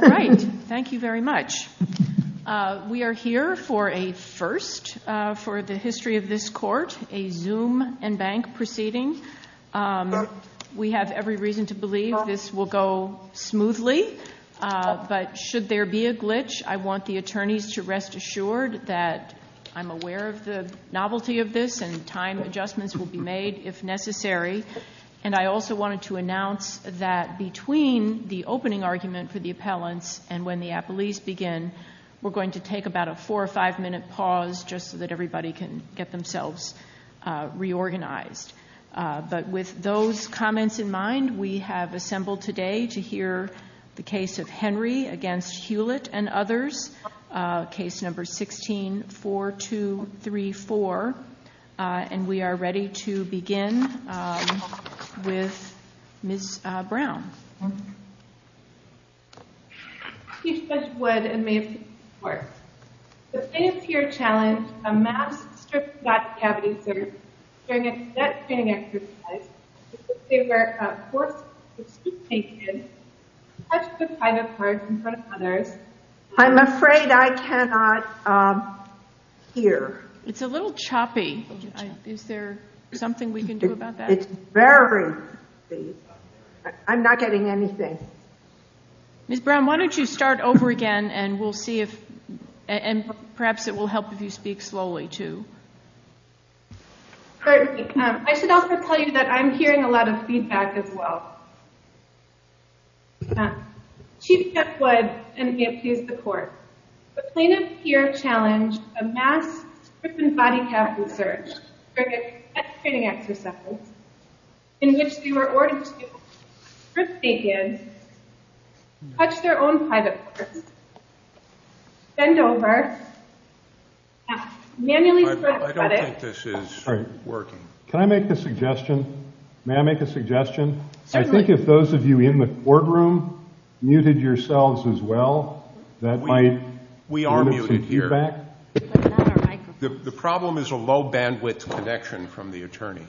Thank you very much. We are here for a first for the history of this court, a Zoom and bank proceeding. We have every reason to believe this will go smoothly, but should there be a glitch, I want the attorneys to rest assured that I'm aware of the novelty of this and time adjustments will be made if necessary. And I also wanted to announce that between the opening argument for the appellant and when the appellees begin, we're going to take about a four or five minute pause just so that everybody can get themselves reorganized. But with those comments in mind, we have assembled today to hear the case of Henry against Hulett and others, case number 16-4234. And we are ready to begin with Ms. Brown. Ms. Brown He says would and may appeal to the court. Does any peer challenge a masked, stripped-back cavity surgeon during a net-scanning exercise to see where a corpse is to be taken, such as the side of hers in front of others? I'm afraid I cannot hear. It's a little choppy. Is there something we can do about that? It's very choppy. I'm not getting anything. Ms. Brown, why don't you start over again and perhaps it will help if you speak slowly too. Certainly. I should also tell you that I'm hearing a lot of feedback as well. She says would and may appeal to the court. Would plaintiff's peer challenge a masked, stripped-and-body-capped surgeon during a net-scanning exercise in which you are ordered to strip the patient, touch their own private parts, bend over, mask, manually strip the clinic... I don't think this is working. Can I make a suggestion? May I make a suggestion? I think if those of you in the courtroom muted yourselves as well, that might... We are muted here. The problem is a low-bandwidth connection from the attorney.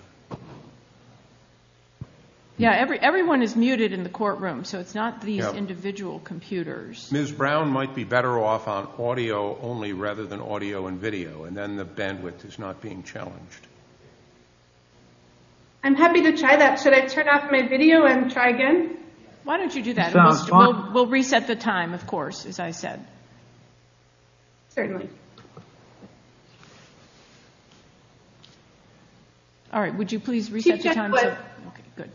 Everyone is muted in the courtroom, so it's not the individual computers. Ms. Brown might be better off on audio only rather than audio and video, and then the bandwidth is not being challenged. I'm happy to try that. Should I turn off my video and try again? Why don't you do that? We'll reset the time, of course, as I said. Certainly. All right. Would you please reset the time? Chief Judge Wood.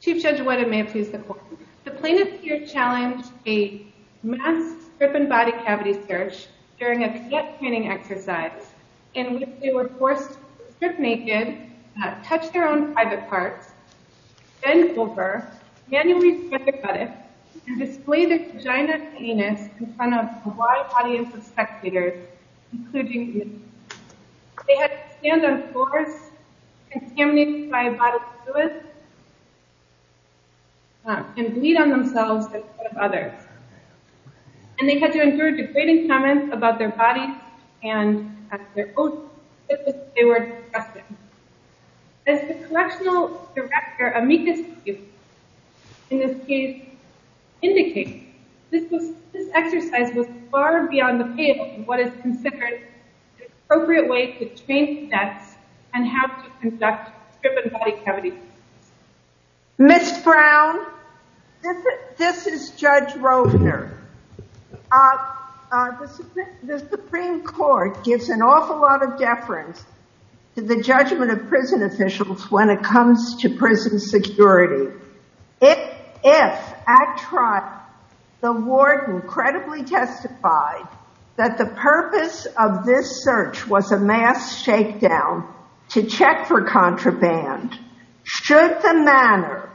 Chief Judge Wood and may it please the court. The plaintiff here challenged a mass strip-and-body cavity search during a set-panning exercise in which they were forced to strip naked, touch their own private parts, bend over, manually strip their buttocks, and display their vagina and penis in front of a wide audience of spectators, including youth. They had to stand on four contaminated-by-body toilets and bleed on themselves as well as others. And they had to endure degrading comments about their bodies and about their oaths that they were discussing. As the correctional director, Amita Singh, in this case, indicates, this exercise was far beyond the field in what is considered the appropriate way to change the test and how to conduct strip-and-body cavities. Ms. Brown, this is Judge Rosner. The Supreme Court gives an awful lot of deference to the judgment of prison officials when it comes to prison security. If, at trial, the warden credibly testified that the purpose of this search was a mass shakedown to check for contraband, should the manner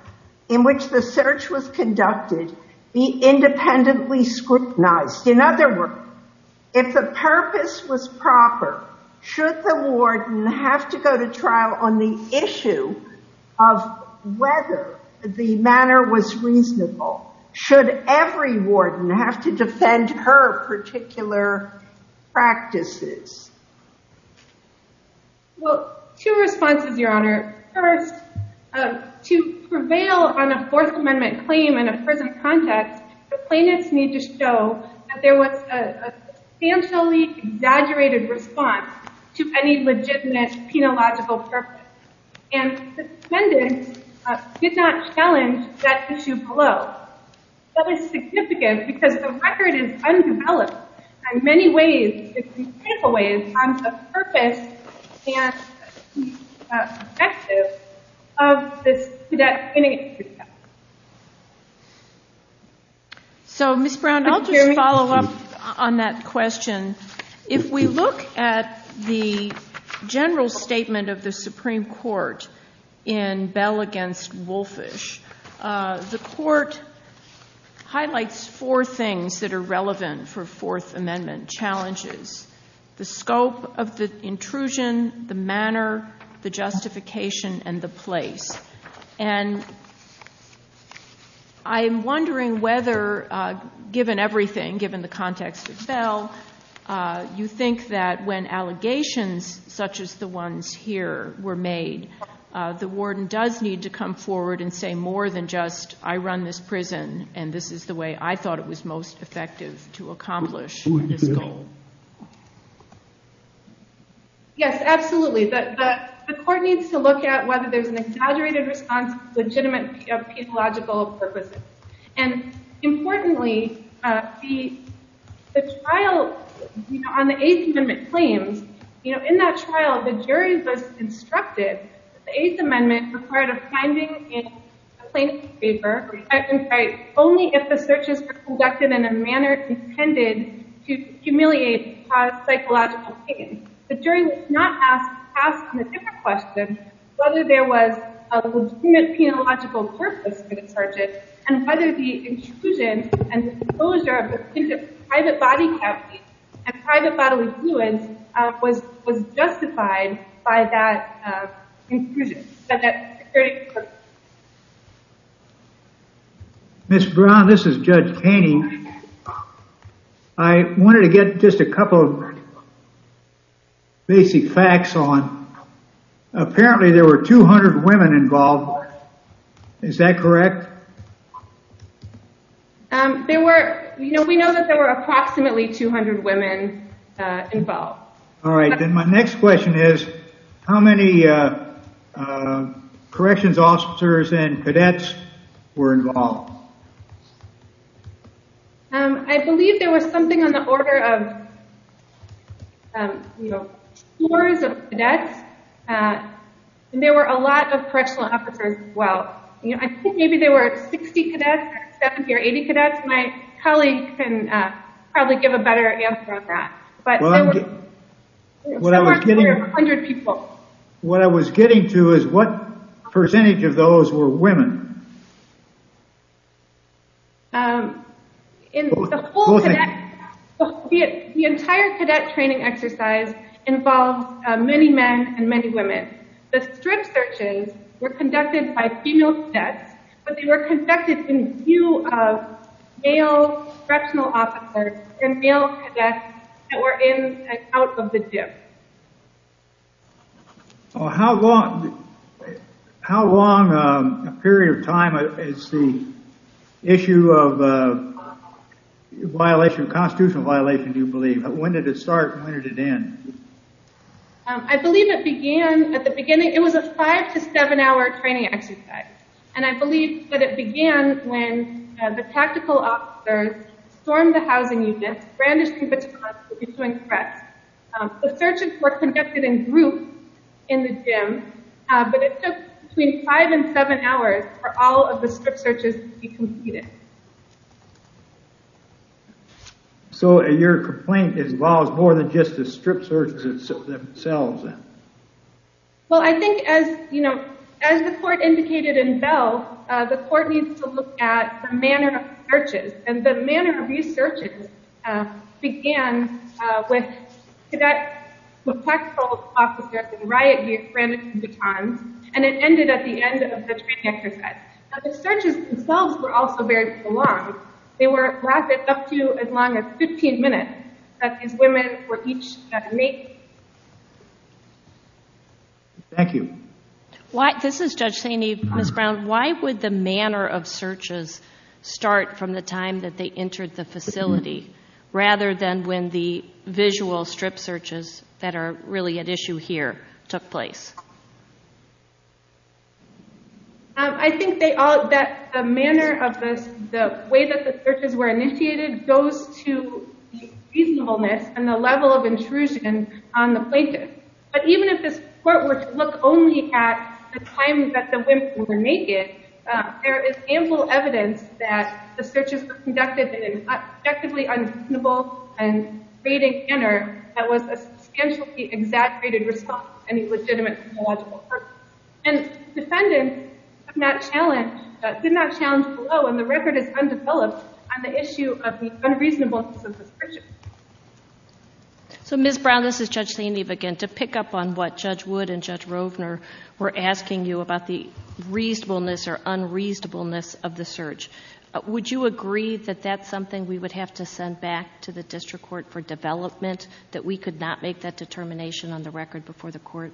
in which the search was conducted be independently scrutinized? In other words, if the purpose was proper, should the warden have to go to trial on the issue of whether the manner was reasonable? Should every warden have to defend her particular practices? Well, two responses, Your Honor. First, to prevail on a Fourth Amendment claim in a prison context, the plaintiffs need to show that there was a substantially exaggerated response to any legitimate, penological purpose, and the defendants did not challenge that issue below. That was significant because the record is undeveloped, and many ways there have been takeaways on the purpose and perspective of that initiative. So, Ms. Brown, I'll just follow up on that question. If we look at the general statement of the Supreme Court in Bell v. Wolfish, the Court highlights four things that are relevant for Fourth Amendment challenges. The scope of the intrusion, the manner, the justification, and the place. And I'm wondering whether, given everything, given the context itself, you think that when allegations such as the ones here were made, the warden does need to come forward and say more than just, I run this prison and this is the way I thought it was most effective to accomplish. Yes, absolutely. The Court needs to look at whether there's an exaggerated response to the legitimacy of penological purposes. And importantly, on the Eighth Amendment claims, in that trial the jury was instructed that the Eighth Amendment required a finding in a plaintiff's paper only if the searches were conducted in a manner intended to humiliate psychological pain. The jury was not asked in the second question whether there was a legitimate penological purpose for the searches and whether the intrusion and the closure of a private body cavity and private bodily fluids was justified by that intrusion. Ms. Brown, this is Judge Taney. I wanted to get just a couple of basic facts on, apparently there were 200 women involved. Is that correct? We know that there were approximately 200 women involved. All right. And my next question is, how many corrections officers and cadets were involved? I believe there was something on the order of, you know, tours of cadets. There were a lot of correctional officers as well. I think maybe there were 60 cadets, 70 or 80 cadets. My colleague can probably give a better answer on that. What I was getting to is, what percentage of those were women? The entire cadet training exercise involved many men and many women. The strip searches were conducted by female cadets, but they were conducted in view of male correctional officers and male cadets that were in and out of the district. How long a period of time is the issue of violation, constitutional violation, do you believe? When did it start and when did it end? I believe it began at the beginning. It was a five to seven hour training exercise. And I believe that it began when the tactical officers stormed the housing unit, brandished the gun, and joined press. The searches were conducted in groups in the gym, but it took between five and seven hours for all of the strip searches to be completed. So your complaint involves more than just the strip searches themselves? Well, I think as the court indicated in Bell, the court needs to look at the manner of the searches. And the manner of these searches began with cadet professional officers rioting, brandishing the gun, and it ended at the end of the training exercise. The searches themselves were also very prolonged. They were lasted up to as long as 15 minutes, because these women were each naked. Thank you. This is Judge Saini. Ms. Brown, why would the manner of searches start from the time that they entered the facility rather than when the visual strip searches that are really at issue here took place? I think that the manner of the way that the searches were initiated goes to the reasonableness and the level of intrusion on the places. But even if the court were to look only at the times that the women were naked, there is ample evidence that the searches conducted in an objectively unreasonable and fading manner that was a substantially exaggerated response to any legitimate criminological purpose. And defendants did not challenge the law, and the record is undeveloped on the issue of the unreasonableness of the searches. So Ms. Brown, this is Judge Saini again. To pick up on what Judge Wood and Judge Rovner were asking you about the reasonableness or unreasonableness of the search, would you agree that that's something we would have to send back to the district court for development, that we could not make that determination on the record before the court?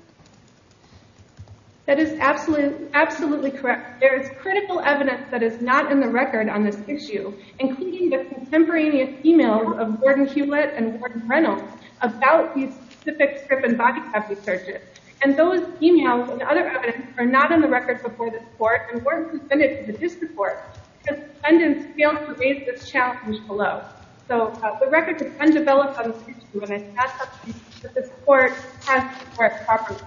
That is absolutely correct. There is critical evidence that is not in the record on this issue, including the contemporaneous emails of Gordon Hewlett and Gordon Reynolds about these specific strip and botch-up searches. And those emails and other evidence are not on the record before the court, and weren't submitted to the district court, because defendants failed to raise this challenge below. So the record is undeveloped on the issue, and it has to be that the court has prepared properly.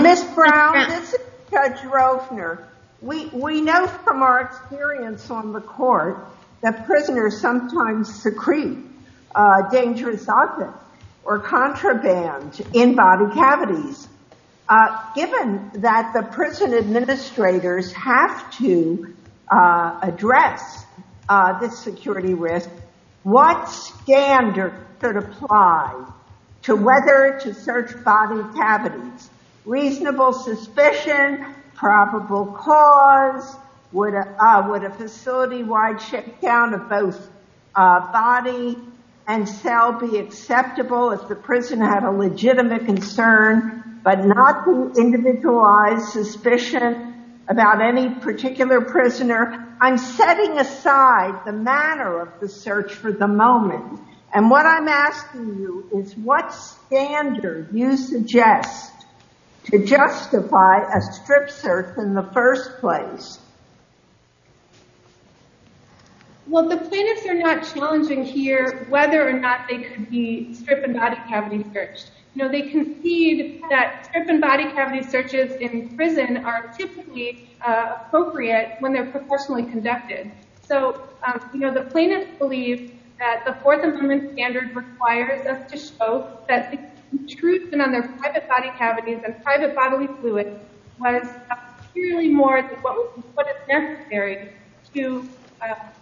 Ms. Brown, this is Judge Rovner. We know from our experience on the court that prisoners sometimes secrete dangerous documents or contraband in body cavities. Given that the prison administrators have to address this security risk, what standard should apply to whether to search body cavities? Reasonable suspicion, probable cause, would a facility-wide shutdown of both body and cell be acceptable if the prison had a legitimate concern, but not to individualize suspicion about any particular prisoner? I'm setting aside the matter of the search for the moment. And what I'm asking you is, what standard do you suggest to justify a strip search in the first place? Well, the plaintiffs are not challenging here whether or not they can be strip and body cavity searched. Now, they concede that strip and body cavity searches in prison are typically appropriate when they're professionally conducted. So, you know, the plaintiffs believe that the Fourth Amendment standard requires us to show that the intrusion on their private body cavities, their private bodily fluids, was clearly more important than what is necessary to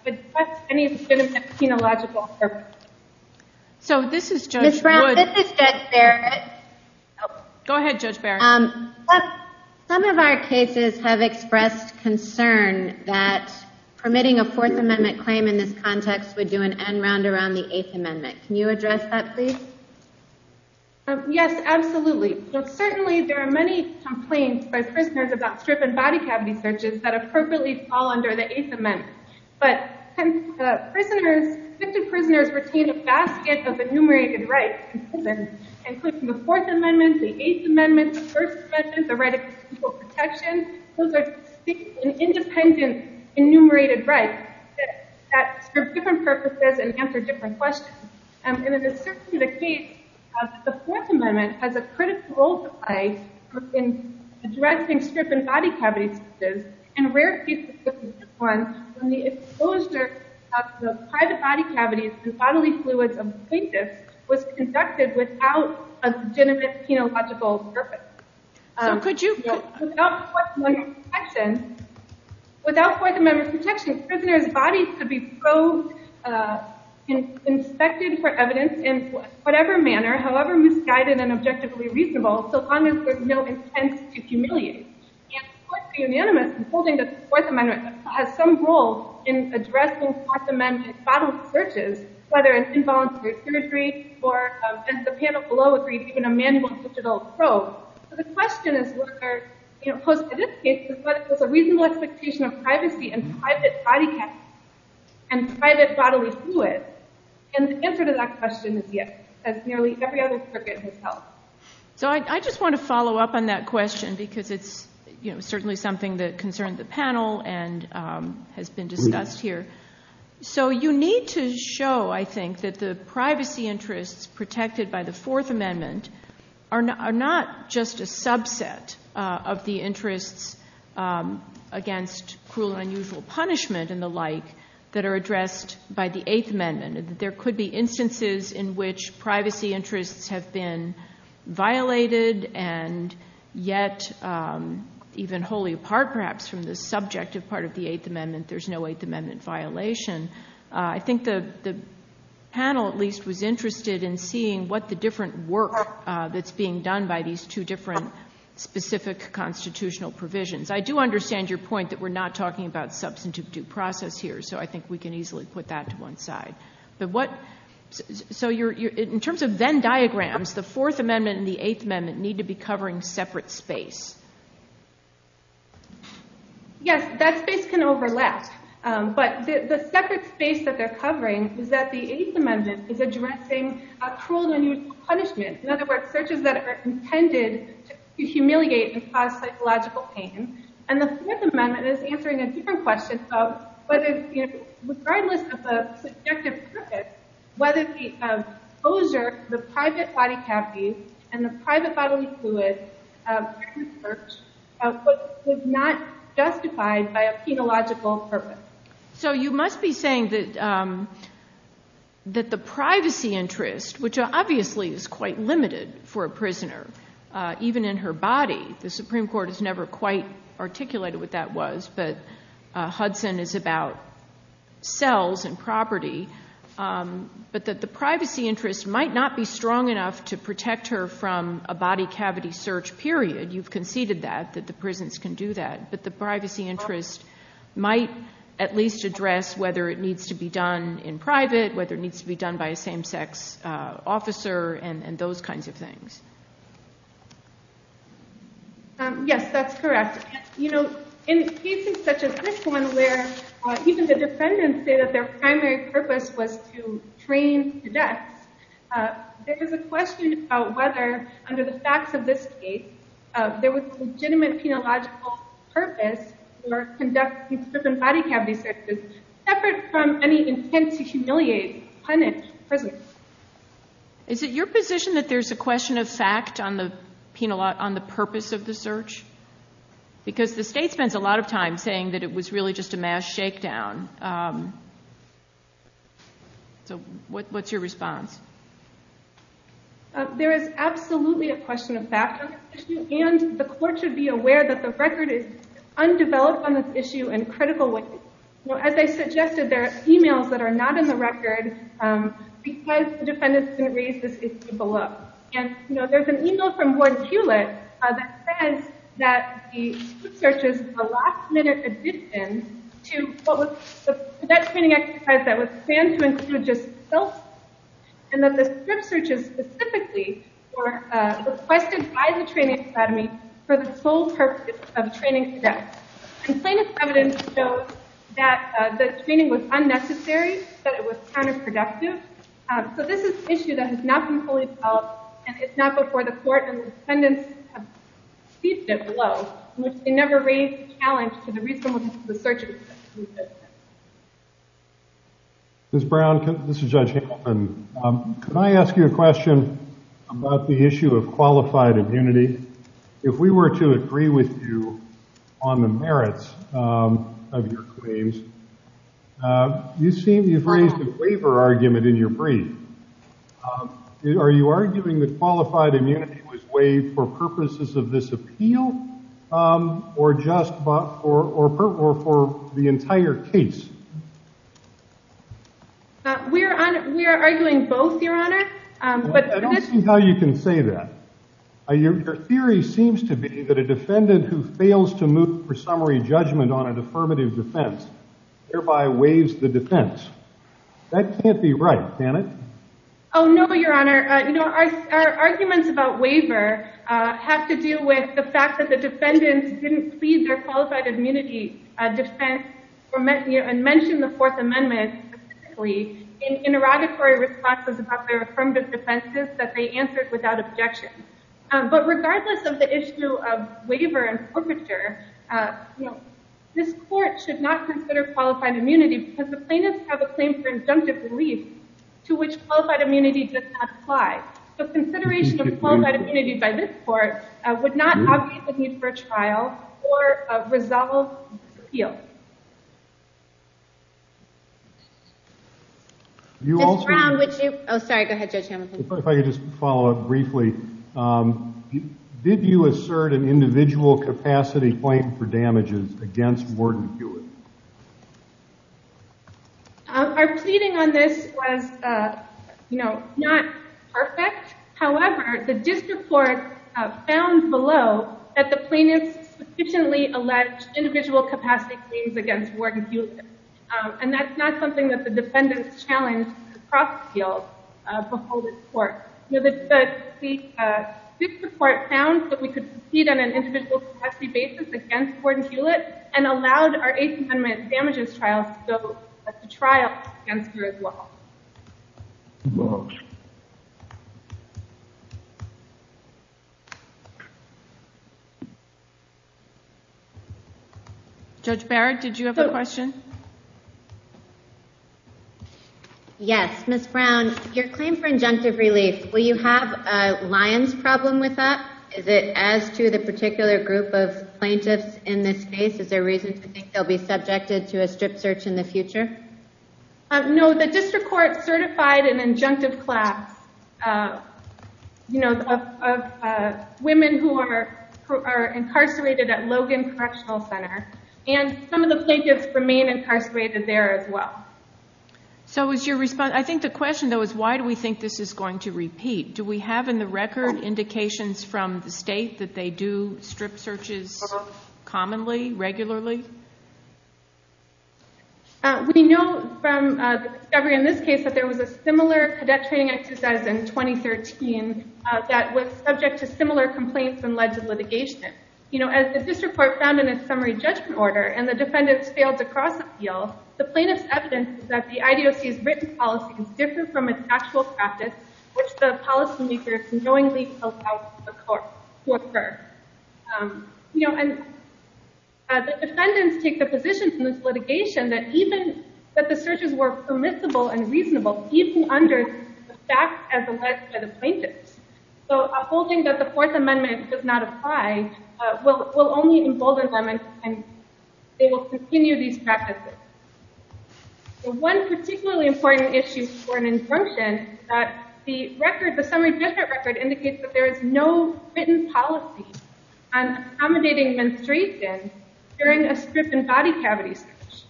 address any legitimate penological purpose. So this is Judge Wood. Ms. Brown, this is Judge Barrett. Go ahead, Judge Barrett. Some of our cases have expressed concern that permitting a Fourth Amendment claim in this context would do an end round around the Eighth Amendment. Can you address that, please? Yes, absolutely. Certainly, there are many complaints by prisoners about strip and body cavity searches that are perfectly all under the Eighth Amendment. But since the prisoners retain a basket of enumerated rights in prison, including the Fourth Amendment, the Eighth Amendment, the First Amendment, the right of personal protection, those are independent enumerated rights that serve different purposes and answer different questions. In addition to the case, the Fourth Amendment has a critical role to play in addressing strip and body cavity searches in rare cases such as this one, when the exposure of the private body cavities to bodily fluids of the plaintiff was conducted without a legitimate penological purpose. How could you? Without Fourth Amendment protection, a prisoner's body could be probed, inspected for evidence in whatever manner, however misguided and objectively reasonable, so long as there's no intent to humiliate. And of course, the unanimous holding that the Fourth Amendment has some role in addressing Fourth Amendment bodily searches, whether it's involuntary surgery or, as the panel below agrees, in a manual digital probe. The question is whether, opposed to this case, is there a reasonable expectation of privacy in private body cavity and private bodily fluids? And the answer to that question is yes, as nearly every other circuit has helped. So I just want to follow up on that question because it's certainly something that concerns the panel and has been discussed here. So you need to show, I think, that the privacy interests protected by the Fourth Amendment are not just a subset of the interests against cruel and unusual punishment and the like that are addressed by the Eighth Amendment. There could be instances in which privacy interests have been violated and yet, even wholly apart perhaps from the subjective part of the Eighth Amendment, there's no Eighth Amendment violation. I think the panel, at least, was interested in seeing what the different work that's being done by these two different specific constitutional provisions. I do understand your point that we're not talking about substantive due process here, so I think we can easily put that to one side. In terms of Venn diagrams, the Fourth Amendment and the Eighth Amendment need to be covering separate space. Yes, that space can overlap, but the separate space that they're covering is that the Eighth Amendment is addressing a cruel and unusual punishment. In other words, searches that are intended to humiliate and cause psychological pain. And the Fourth Amendment is answering a different question of whether, regardless of the subjective purpose, whether the exposure to the private body capacities and the private bodily fluid of certain searches was not justified by a phenological purpose. So you must be saying that the privacy interest, which obviously is quite limited for a prisoner, even in her body, the Supreme Court has never quite articulated what that was, but Hudson is about cells and property, but that the privacy interest might not be strong enough to protect her from a body cavity search period. You've conceded that, that the prisons can do that. That the privacy interest might at least address whether it needs to be done in private, whether it needs to be done by a same-sex officer, and those kinds of things. Yes, that's correct. In cases such as this one, where even the defendants say that their primary purpose was to train to death, there was a question about whether, under the facts of this case, there was legitimate phenological purpose for conducting certain body cavity searches separate from any intent to humiliate, punish prisoners. Is it your position that there's a question of fact on the purpose of the search? Because the state spent a lot of time saying that it was really just a mass shakedown. So what's your response? There is absolutely a question of fact. And the court should be aware that the record is undeveloped on this issue in critical ways. As I suggested, there are emails that are not in the record because the defendants didn't raise this issue below. And there's an email from Gordon Hewlett that says that the search is a last-minute addition to what was that training exercise that was planned to include just stealth. And that the strip searches specifically were requested by the training academy for the sole purpose of training to death. Conclaimant evidence shows that the training was unnecessary, that it was counterproductive. So this is an issue that has not been fully solved. And it's not before the court and the defendants to speak to it below. And it never raised the challenge to the reasonableness of the search. Ms. Brown, this is Judge Hammond. Can I ask you a question about the issue of qualified immunity? If we were to agree with you on the merits of your claims, you've raised the waiver argument in your brief. Are you arguing that qualified immunity was waived for purposes of this appeal or for the entire case? We are arguing both, Your Honor. I don't see how you can say that. Your theory seems to be that a defendant who fails to move for summary judgment on an affirmative defense thereby waives the defense. That can't be right, can it? Oh, no, Your Honor. Our arguments about waiver have to do with the fact that the defendant didn't plead their qualified immunity defense and mentioned the Fourth Amendment specifically in interrogatory responses about their affirmative defenses that they answered without objection. But regardless of the issue of waiver and perpetrator, this court should not consider qualified immunity because the plaintiffs have a claim for injunctive release to which qualified immunity does not apply. So consideration of qualified immunity by this court would not augment the need for a trial or a resolved appeal. Oh, sorry. Go ahead, Judge Hamilton. If I could just follow up briefly. Did you assert an individual capacity claim for damages against Warden Hewitt? Our seating on this was not perfect. However, the district court found below that the plaintiff sufficiently alleged individual capacity claims against Warden Hewitt. And that's not something that the defendant challenged across the field before this court. The district court found that we could proceed on an individual capacity basis against Warden Hewitt and allowed our Eighth Amendment damages trial to go through as well. Judge Barrett, did you have a question? Yes. Ms. Brown, your claim for injunctive release, will you have a liens problem with that? Is it as to the particular group of plaintiffs in this case? Is there reasons to think they'll be subjected to a strip search in the future? No. The district court certified an injunctive class of women who are incarcerated at Logan Correctional Center. And some of the plaintiffs remain incarcerated there as well. I think the question, though, is why do we think this is going to repeat? Do we have in the record indications from the state that they do strip searches commonly, regularly? We know from discovery in this case that there was a similar cadet training exercise in 2013 that was subject to similar complaints and led to litigation. As the district court found in its summary judgment order and the defendants failed to cross the field, the plaintiff's evidence that the IDOC's written policy differed from its actual practice, which the policy makers knowingly held out to the court to assert. The defendants make the division from this litigation that the searches were permissible and reasonable even under the facts as alleged by the plaintiffs. So upholding that the Fourth Amendment does not apply will only embolden them, and they will continue these practices. One particularly important issue for an injunction is that the summary judgment record indicates that there is no written policy on accommodating menstruation during a strip and body cavity search.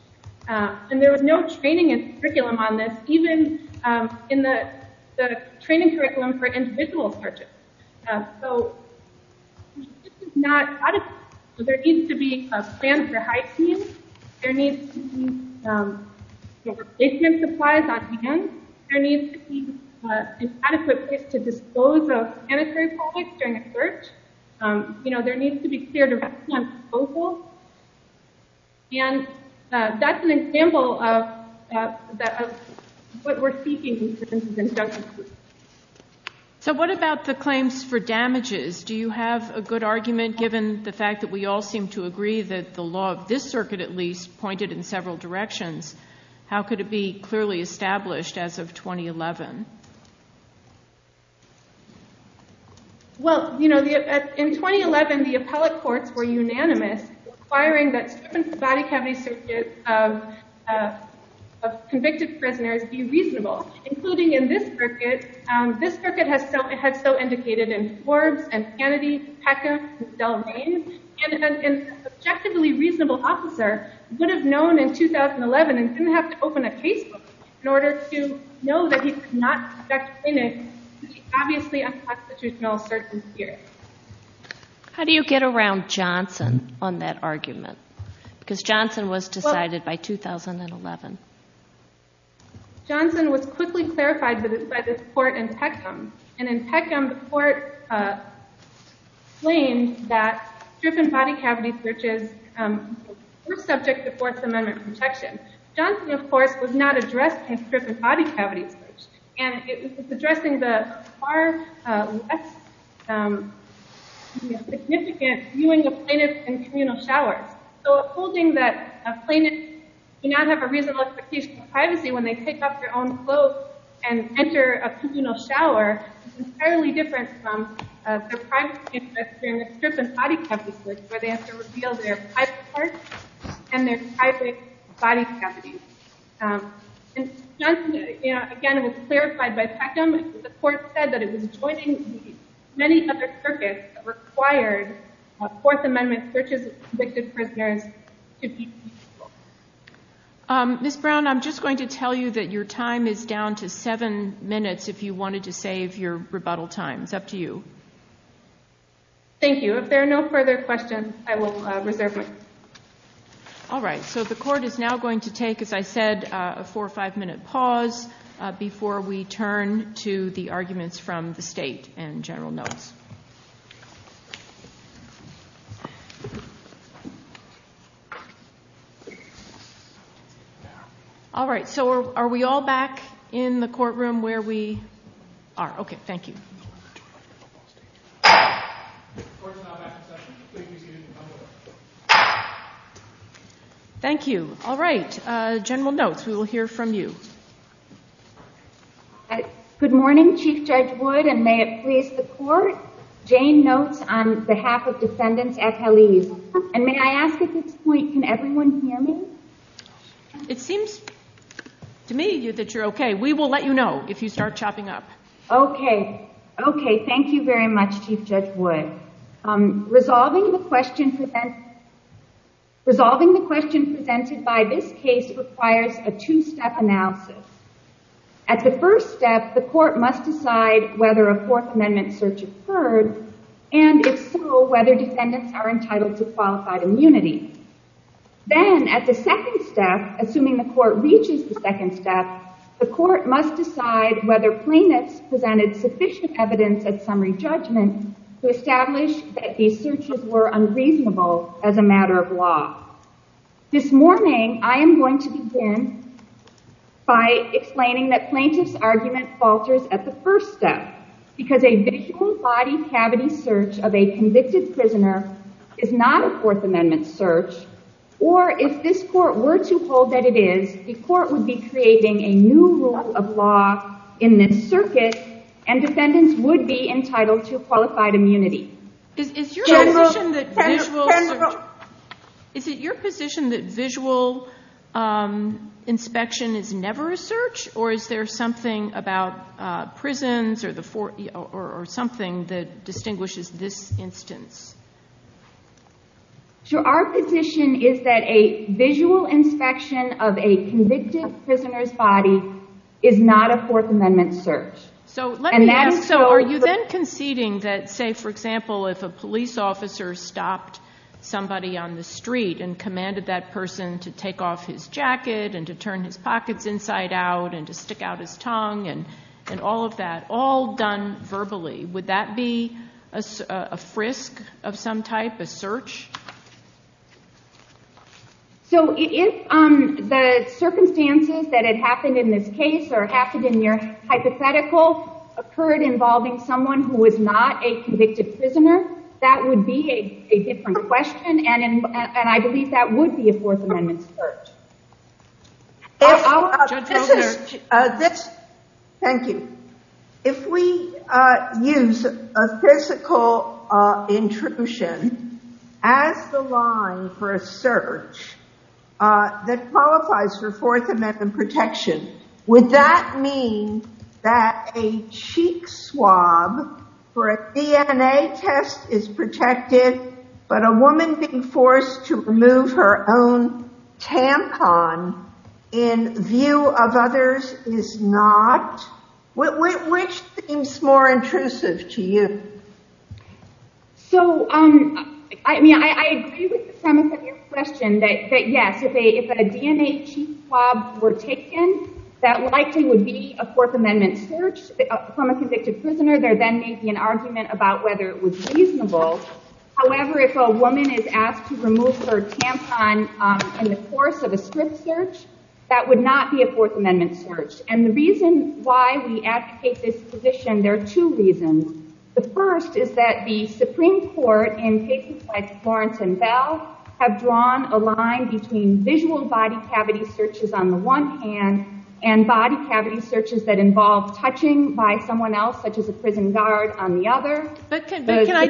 And there was no training curriculum on this, even in the training curriculum for individual searches. So this is not adequate. There needs to be a plan for hygiene. There needs to be basement supplies on hand. There needs to be an adequate place to dispose of sanitary products during a search. There needs to be a clear direction on disposal. And that's an example of what we're seeking in this injunction. So what about the claims for damages? Do you have a good argument, given the fact that we all seem to agree that the law of this circuit, at least, pointed in several directions? How could it be clearly established as of 2011? Well, you know, in 2011, the appellate courts were unanimous, requiring that strip and body cavity searches of convicted prisoners be reasonable, including in this circuit. This circuit has so indicated in Forbes, and Sanity, Peckins, and Del Naine. And a subjectively reasonable officer would have known in 2011 and didn't have to open a case in order to know that he could not expect in it, obviously, a constitutional search in spirit. How do you get around Johnson on that argument? Because Johnson was decided by 2011. Johnson was quickly clarified by this court in Peckham. And in Peckham, the court claimed that strip and body cavity searches were subject to Fourth Amendment protection. Johnson, of course, was not addressed in strip and body cavity search. And it was addressing the far less significant viewing of plaintiffs in communal showers. So upholding that a plaintiff may not have a reasonable expectation of privacy when they take off their own clothes and enter a communal shower is entirely different from their privacy in the strip and body cavity search, where they have to reveal their private parts and their private body cavities. And Johnson, again, was clarified by Peckham. The court said that it was avoiding many other circuits that required Fourth Amendment searches of convicted prisoners to be reasonable. Ms. Brown, I'm just going to tell you that your time is down to seven minutes if you wanted to save your rebuttal time. It's up to you. Thank you. So if there are no further questions, I will reserve it. All right, so the court is now going to take, as I said, a four or five minute pause before we turn to the arguments from the state and general notes. All right, so are we all back in the courtroom where we are? OK, thank you. Thank you. All right. General notes, we will hear from you. Good morning, Chief Judge Wood, and may it please the court. Jane Notes on behalf of Defendant Ethel Eve. And may I ask at this point, can everyone hear me? It seems to me that you're OK. We will let you know if you start chopping up. OK. OK, thank you very much, Chief Judge Wood. Resolving the question presented by this case requires a two-step analysis. At the first step, the court must decide whether a Fourth Amendment search occurred, and if so, whether defendants are entitled to qualified immunity. Then at the second step, assuming the court reaches the second step, the court must decide whether plaintiffs presented sufficient evidence of summary judgment to establish that these searches were unreasonable as a matter of law. This morning, I am going to begin by explaining that plaintiff's argument falters at the first step, because a physical body cavity search of a convicted prisoner is not a Fourth Amendment search. Or if this court were to hold that it is, the court would be creating a new rule of law in this circuit, and defendants would be entitled to qualified immunity. Is it your position that visual inspection is never a search, or is there something about prisons or something that distinguishes this instance? So our position is that a visual inspection of a convicted prisoner's body is not a Fourth Amendment search. So are you then conceding that, say, for example, if a police officer stopped somebody on the street and commanded that person to take off his jacket and to turn his pockets inside out and to stick out his tongue and all of that, all done verbally, would that be a frisk of some type, a search? So if the circumstances that it happened in this case or happened in your hypotheticals occurred involving someone who was not a convicted prisoner, that would be a different question. And I believe that would be a Fourth Amendment search. Thank you. If we use a physical intrusion as the line for a search that qualifies for Fourth Amendment protection, would that mean that a cheek swab for a DNA test is protected, but a woman being forced to remove her own tampon in view of others is not? Which seems more intrusive to you? So I mean, I agree with the premise of your question that if a DNA cheek swab were taken, that likely would be a Fourth Amendment search from a convicted prisoner. There then may be an argument about whether it was reasonable. However, if a woman is asked to remove her tampon in the course of a swift search, that would not be a Fourth Amendment search. And the reason why we advocate this position, there are two reasons. The first is that the Supreme Court, in cases like Florence and Belle, have drawn a line between visual body cavity searches on the one hand, and body cavity searches that involve touching by someone else, such as a prison guard, on the other. But can I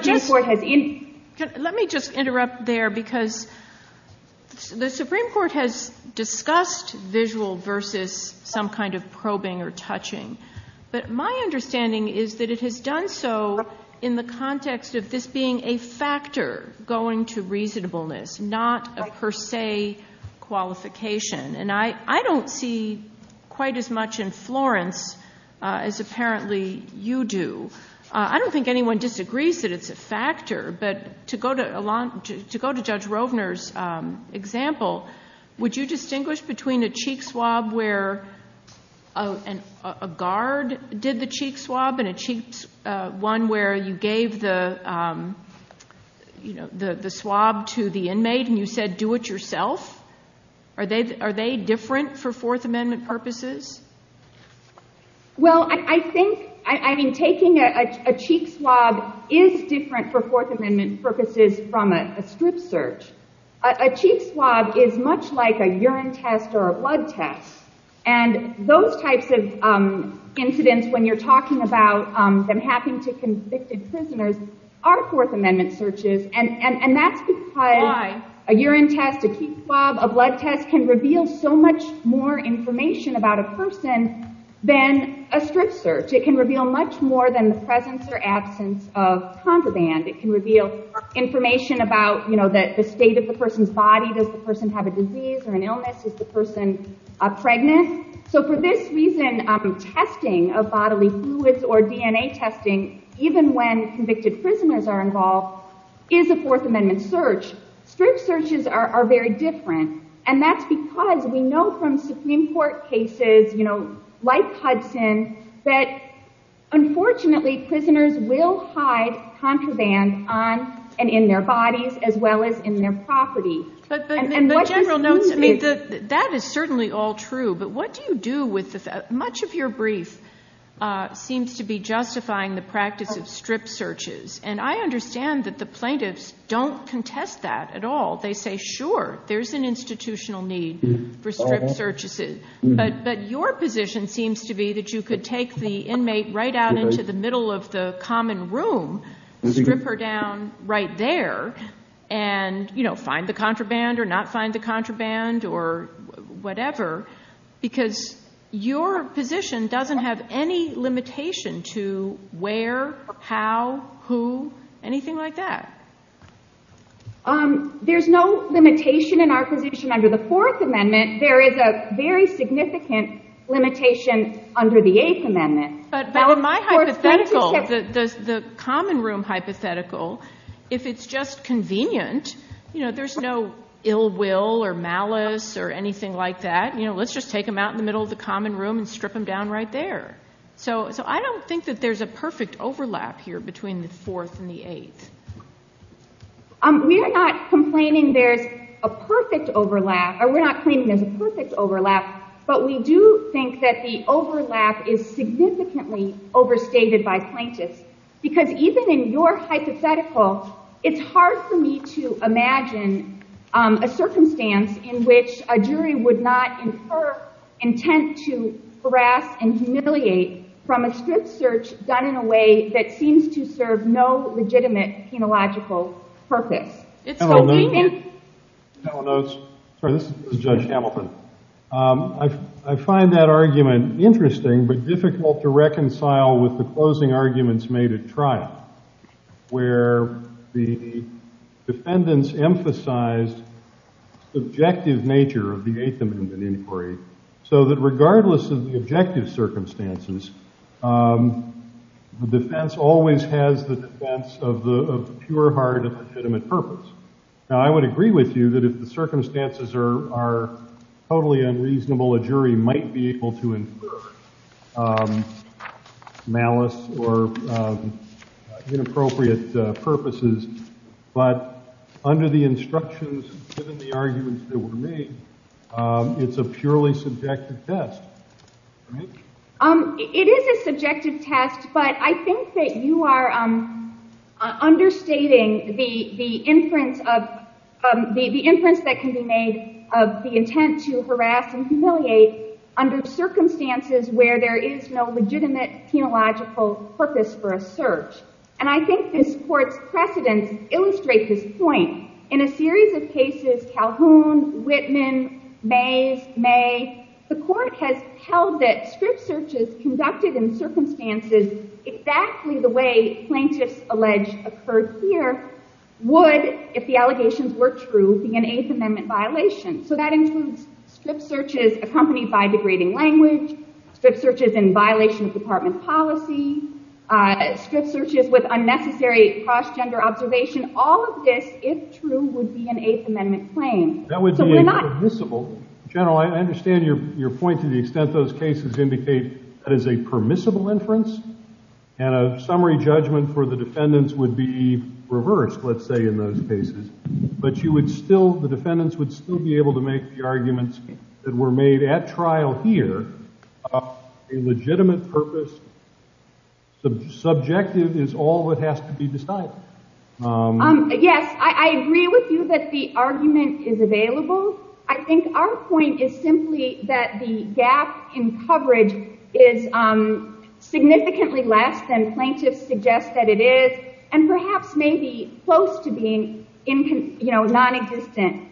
just interrupt there? Because the Supreme Court has discussed visual versus some kind of probing or touching. But my understanding is that it has done so in the context of this being a factor going to reasonableness, not a per se qualification. And I don't see quite as much in Florence as apparently you do. I don't think anyone disagrees that it's a factor. But to go to Judge Rodner's example, would you distinguish between a cheek swab where a guard did the cheek swab and one where you gave the swab to the inmate and you said, do it yourself? Are they different for Fourth Amendment purposes? Well, I think taking a cheek swab is different for Fourth Amendment purposes from a swift search. A cheek swab is much like a urine test or a blood test. And those types of incidents when you're talking about them happening to convicted prisoners are Fourth Amendment searches. And that's because a urine test, a cheek swab, a blood test can reveal so much more information about a person than a swift search. It can reveal much more than the presence or absence of condom band. It can reveal information about the state of the person's body. Does the person have a disease or an illness? Is the person pregnant? So for this reason, testing of bodily fluids or DNA testing, even when convicted prisoners are involved, is a Fourth Amendment search. Swift searches are very different. And that's because we know from Supreme Court cases like Hudson that, unfortunately, prisoners will hide contraband in their bodies as well as in their property. And what do you do? That is certainly all true. But what do you do with this? Much of your brief seems to be justifying the practice of strip searches. And I understand that the plaintiffs don't contest that at all. They say, sure, there's an institutional need for strip searches. But your position seems to be that you could take the inmate right out into the middle of the common room, strip her down right there, and find the contraband or not find the contraband or whatever, because your position doesn't have any limitation to where, how, who, anything like that. There's no limitation in our position under the Fourth Amendment. There is a very significant limitation under the Eighth Amendment. But in my hypothetical, the common room hypothetical, if it's just convenient, there's no ill will or malice or anything like that. Let's just take him out in the middle of the common room and strip him down right there. So I don't think that there's a perfect overlap here between the Fourth and the Eighth. We are not complaining there's a perfect overlap. We're not claiming there's a perfect overlap. But we do think that the overlap is significantly overstated by plaintiffs. Because even in your hypothetical, it's hard for me to imagine a circumstance in which a jury would not infer intent to harass and humiliate from a strict search done in a way that seems to serve no legitimate, phenological purpose. This is Judge Hamilton. I find that argument interesting but difficult to reconcile with the closing arguments made at trial, where the defendants emphasized the subjective nature of the Eighth Amendment inquiry. So that regardless of the objective circumstances, the defense always has the defense of the pure heart of legitimate purpose. Now, I would agree with you that if the circumstances are totally unreasonable, a jury might be able to infer. Malice or inappropriate purposes. But under the instructions and the arguments that were made, it's a purely subjective test. It is a subjective test. But I think that you are understating the inference that can be made of the intent to harass and humiliate under circumstances where there is no legitimate, phenological purpose for a search. And I think this court's precedence illustrates this point. In a series of cases, Calhoun, Whitman, May, May, the court has held that strict searches conducted in circumstances exactly the way plaintiffs alleged occurred here would, if the allegations were true, be an Eighth Amendment violation. So that includes strict searches accompanied by degrading language, strict searches in violation of department policy, strict searches with unnecessary cross-gender observation. All of this, if true, would be an Eighth Amendment claim. That would be permissible. General, I understand your point to the extent those cases indicate as a permissible inference. And a summary judgment for the defendants would be reversed, let's say, in those cases. But the defendants would still be at trial here. A legitimate purpose, subjective, is all that has to be decided. Yes, I agree with you that the argument is available. I think our point is simply that the gap in coverage is significantly less than plaintiffs suggest that it is, and perhaps may be close to being non-existent.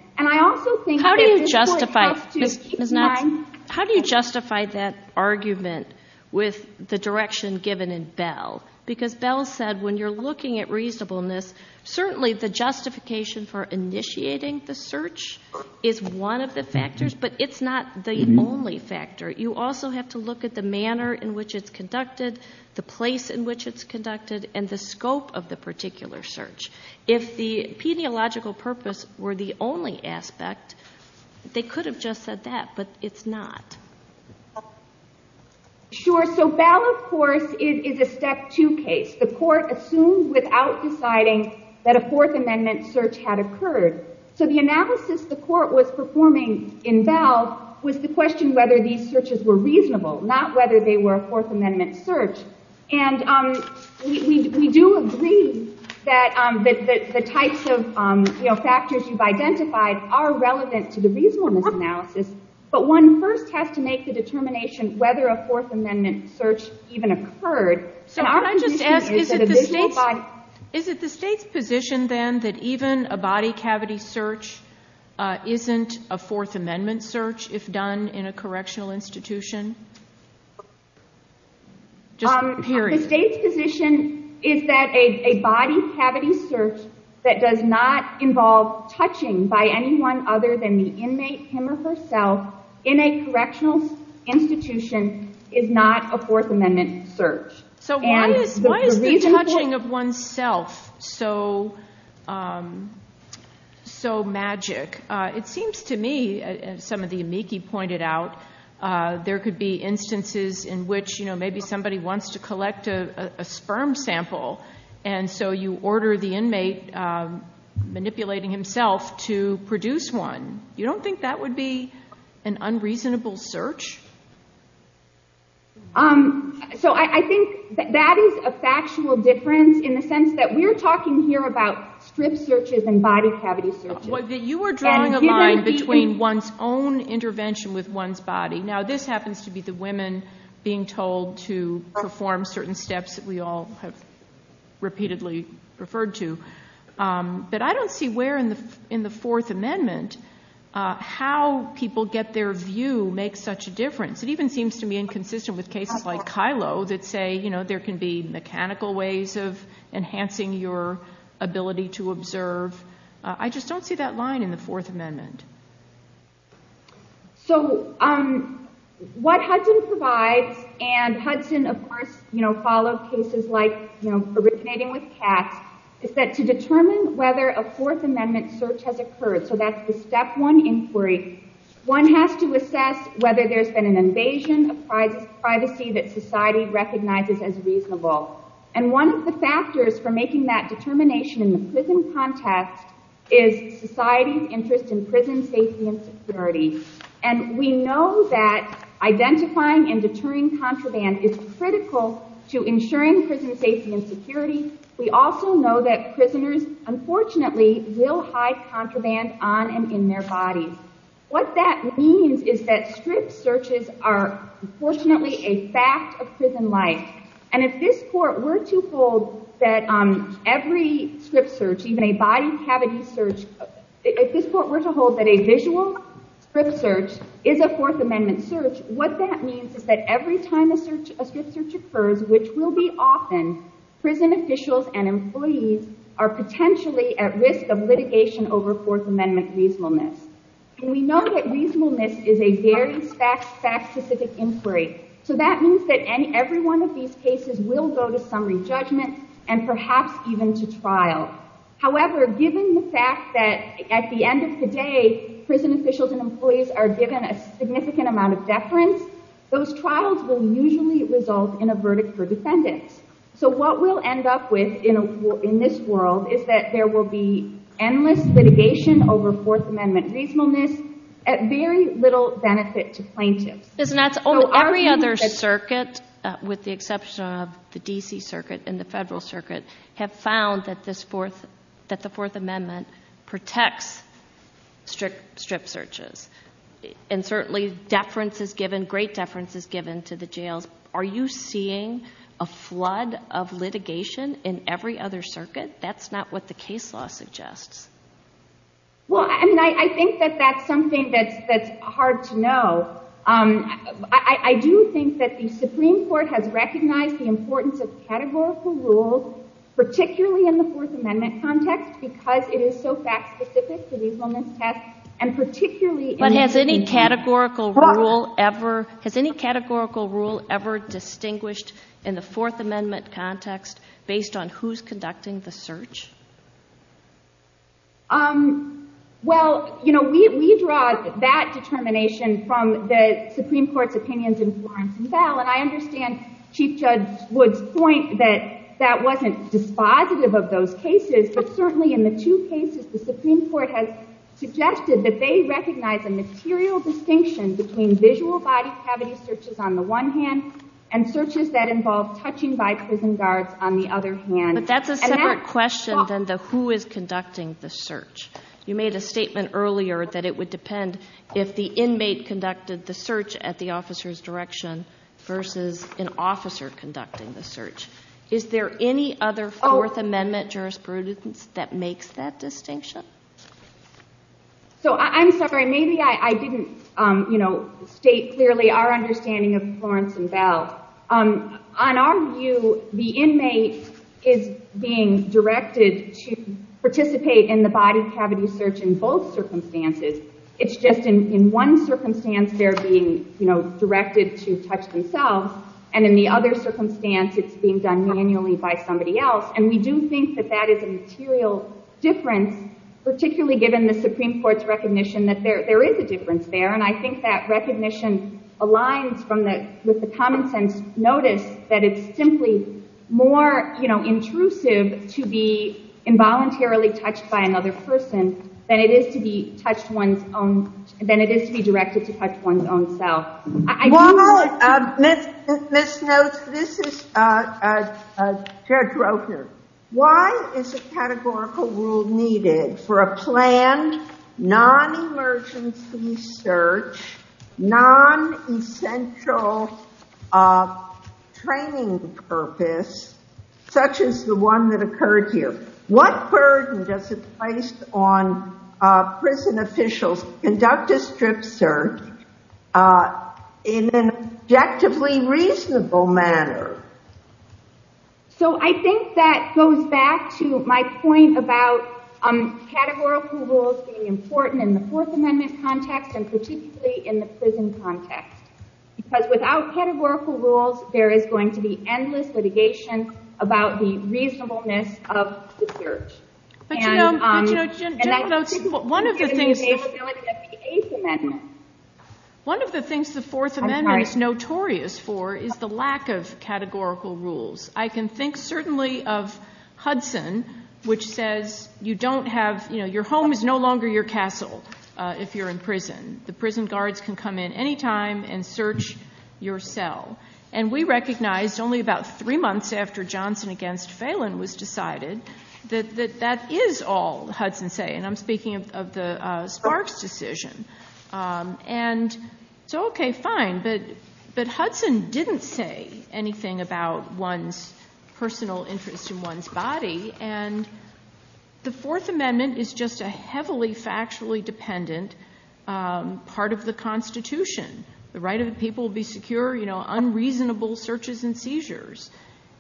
How do you justify that argument with the direction given in Bell? Because Bell said when you're looking at reasonableness, certainly the justification for initiating the search is one of the factors, but it's not the only factor. You also have to look at the manner in which it's conducted, the place in which it's conducted, and the scope of the particular search. If the pediological purpose were the only aspect, they could have just said that, but it's not. Sure, so Bell, of course, is a step-two case. The court assumed without deciding that a Fourth Amendment search had occurred. So the analysis the court was performing in Bell was to question whether these searches were reasonable, not whether they were a Fourth Amendment search. We do agree that the types of factors you've identified are relevant to the reasonable analysis, but one first has to make the determination whether a Fourth Amendment search even occurred. Is it the state's position, then, that even a body cavity search isn't a Fourth Amendment search if done in a correctional institution? The state's position is that a body cavity search that does not involve touching by anyone other than the inmate, him or herself, in a correctional institution is not a Fourth Amendment search. So why is the touching of oneself so magic? It seems to me, as some of the amici pointed out, there could be instances in which maybe somebody wants to collect a sperm sample, and so you order the inmate, manipulating himself, to produce one. You don't think that would be an unreasonable search? I think that is a factual difference in the sense that we're talking here about strip searches and body cavity searches. You were drawing a line between one's own intervention with one's body. Now, this happens to be the women being told to perform certain steps that we all have repeatedly referred to. But I don't see where in the Fourth Amendment how people get their view makes such a difference. It even seems to me inconsistent with cases like Kylo that say there can be mechanical ways of enhancing your ability to observe. I just don't see that line in the Fourth Amendment. So what Hudson provides, and Hudson, of course, follows cases like originating with cats, is that to determine whether a Fourth Amendment search has occurred, so that's the step one inquiry, one has to assess whether there's been an invasion of privacy that society recognizes as reasonable. And one of the factors for making that determination in the prison context is society's interest in prison safety and security. And we know that identifying and deterring contraband is critical to ensuring prison safety and security. We also know that prisoners, unfortunately, will hide contraband on and in their body. What that means is that strip searches are, unfortunately, a fact of prison life. And if this court were to hold that a visual strip search is a Fourth Amendment search, what that means is that every time a strip search occurs, which will be often, prison officials and employees are potentially at risk of litigation over Fourth Amendment reasonableness. And we know that reasonableness is a very fact-specific inquiry. So that means that every one of these cases will go to summary judgment and perhaps even to trial. However, given the fact that at the end of today, prison officials and employees are given a significant amount of deference, those trials will usually result in a verdict for defendants. So what we'll end up with in this world is that there will be endless litigation over Fourth Amendment reasonableness at very little benefit to plaintiffs. Every other circuit, with the exception of the DC Circuit and the Federal Circuit, have found that the Fourth Amendment protects strip searches. And certainly, great deference is given to the jails. Are you seeing a flood of litigation in every other circuit? That's not what the case law suggests. Well, I mean, I think that that's something that's hard to know. I do think that the Supreme Court has recognized the importance of categorical rules, particularly in the Fourth Amendment context, because it is so fact-specific to reasonableness tests. But has any categorical rule ever distinguished in the Fourth Amendment context based on who's conducting the search? Well, you know, we draw that determination from the Supreme Court's opinions in Florence and Bell. And I understand Chief Judge Wood's point that that wasn't dispositive of those cases. But certainly, in the two cases, the Supreme Court has suggested that they recognize a material distinction between visual body cavity searches on the one hand and searches that involve touching by prison guards on the other hand. But that's a separate question than the question of who is conducting the search. You made a statement earlier that it would depend if the inmate conducted the search at the officer's direction versus an officer conducting the search. Is there any other Fourth Amendment jurisprudence that makes that distinction? So I'm sorry. Maybe I didn't state clearly our understanding of Florence and Bell. On our view, the inmate is being directed to participate in the body cavity search in both circumstances. It's just in one circumstance, they're being directed to touch themselves. And in the other circumstance, it's being done manually by somebody else. And we do think that that is a material difference, particularly given the Supreme Court's recognition that there is a difference there. And I think that recognition aligns with the common sense notice that it's simply more intrusive to be involuntarily touched by another person than it is to be directed to touch one's own self. Ms. Snopes, this is a dead broker. Why is a categorical rule needed for a planned non-emergency search, non-essential training purpose, such as the one that occurred here? What burden does it place on prison officials to conduct a strict search in an objectively reasonable manner? So I think that goes back to my point about categorical rules being important in the Fourth Amendment context and particularly in the prison context. Because without categorical rules, there is going to be endless litigation about the reasonableness of the search. But you know, one of the things the Fourth Amendment is notorious for is the lack of categorical rules. I can think certainly of Hudson, which says your home is no longer your castle if you're in prison. The prison guards can come in any time and search your cell. And we recognized only about three months after Johnson against Phelan was decided that that is all Hudson say. And I'm speaking of the Sparks decision. And so OK, fine. in one's body. And the Fourth Amendment is just a heavily factually dependent part of the Constitution. The right of the people to be secure, unreasonable searches and seizures.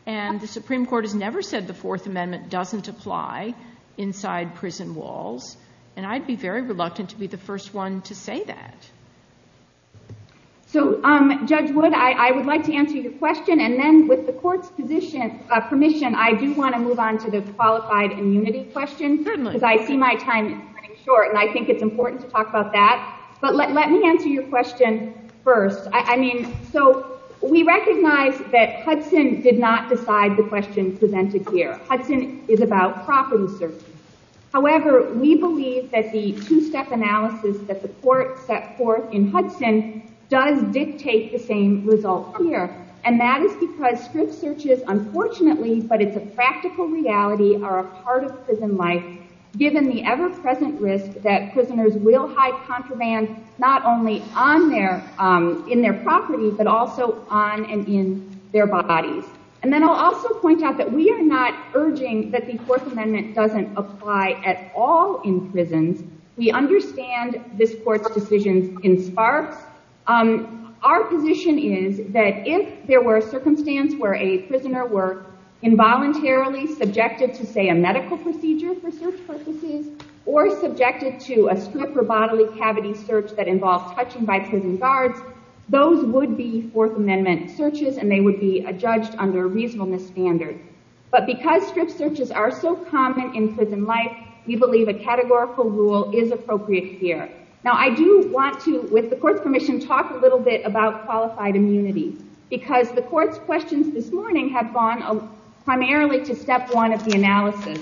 And the Supreme Court has never said the Fourth Amendment doesn't apply inside prison walls. And I'd be very reluctant to be the first one to say that. So Judge Wood, I would like to answer your question. And then with the court's permission, I do want to move on to the qualified immunity questions. Because I see my time is running short. And I think it's important to talk about that. But let me answer your question first. I mean, so we recognize that Hudson did not decide the questions presented here. Hudson is about property searches. However, we believe that the two-step analysis that the court set forth in Hudson does dictate the same results here. And that is because search searches, unfortunately, but it's a practical reality, are a part of prison life, given the ever-present risk that prisoners will hide contraband not only in their property, but also on and in their bodies. And then I'll also point out that we are not urging that the Fourth Amendment doesn't apply at all in prisons. We understand this court's decisions in SPARC. Our position is that if there were a circumstance where a prisoner were involuntarily subjected to, say, a medical procedure for search purposes, or subjected to a suit for bodily cavity search that involves touching by prison guards, those would be Fourth Amendment searches. And they would be judged under reasonableness standards. But because search searches are so common in prison life, we believe a categorical rule is appropriate here. Now, I do want to, with the court's permission, talk a little bit about qualified immunity. Because the court's questions this morning have gone primarily to step one of the analysis.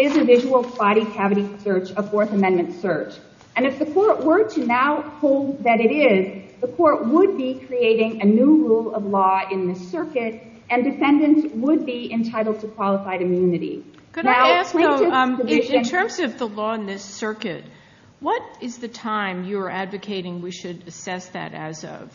Is a visual body cavity search a Fourth Amendment search? And if the court were to now hold that it is, the court would be creating a new rule of law in this circuit, and defendants would be entitled to qualified immunity. Could I ask, in terms of the law in this circuit, what is the time you are advocating we should assess that as of?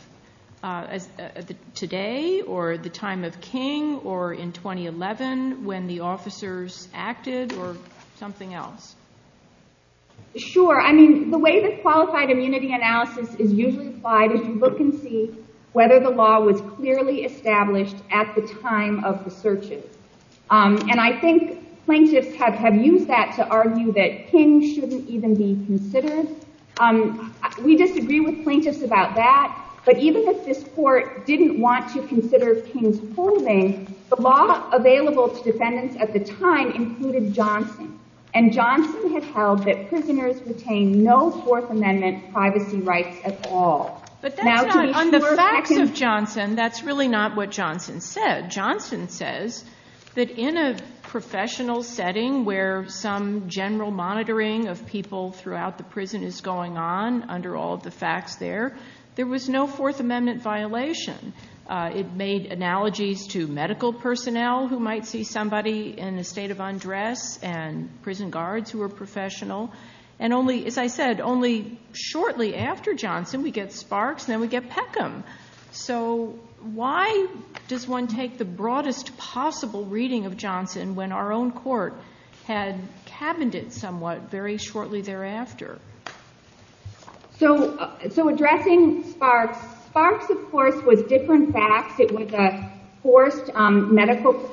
Today, or the time of King, or in 2011, when the officers acted, or something else? Sure. I mean, the way the qualified immunity analysis is usually applied is you look and see whether the law was clearly established at the time of the searches. And I think plaintiffs have used that to argue that King shouldn't even be considered. We disagree with plaintiffs about that. But even if this court didn't want to consider King's holding, the law available to defendants at the time included Johnson. And Johnson had held that prisoners retained no Fourth Amendment privacy rights at all. But that's not under the facts of Johnson. That's really not what Johnson said. Johnson says that in a professional setting where some general monitoring of people throughout the prison is going on under all the facts there, there was no Fourth Amendment violation. It made analogies to medical personnel who might see somebody in a state of undress and prison guards who were professional. And only, as I said, only shortly after Johnson we get Sparks, and then we get Peckham. So why does one take the broadest possible reading of Johnson when our own court had cabined it somewhat very shortly thereafter? So addressing Sparks, of course, was different facts. It was a forced medical leave.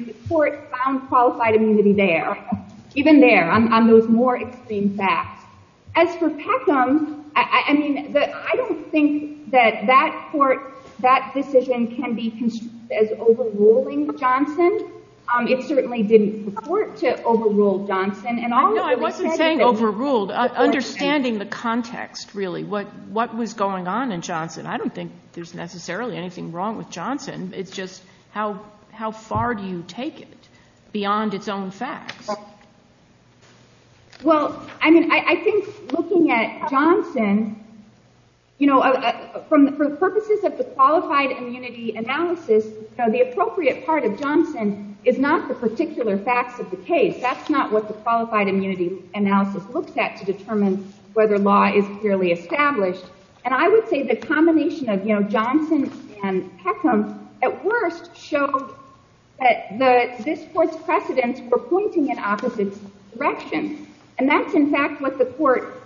The court found qualified immunity there. Even there, on those more extreme facts. As for Peckham, I don't think that that court, that decision can be conceived as overruling Johnson. It certainly didn't support to overrule Johnson. No, I wasn't saying overruled. Understanding the context, really. What was going on in Johnson? I don't think there's necessarily anything wrong with Johnson. It's just how far do you take it beyond its own facts? Well, I mean, I think looking at Johnson, for purposes of the qualified immunity analysis, the appropriate part of Johnson is not the particular fact of the case. That's not what the qualified immunity analysis looks at to determine whether law is really established. And I would say the combination of Johnson and Peckham, at worst, show that this court's precedents were pointing in opposite directions. And that's, in fact, what the court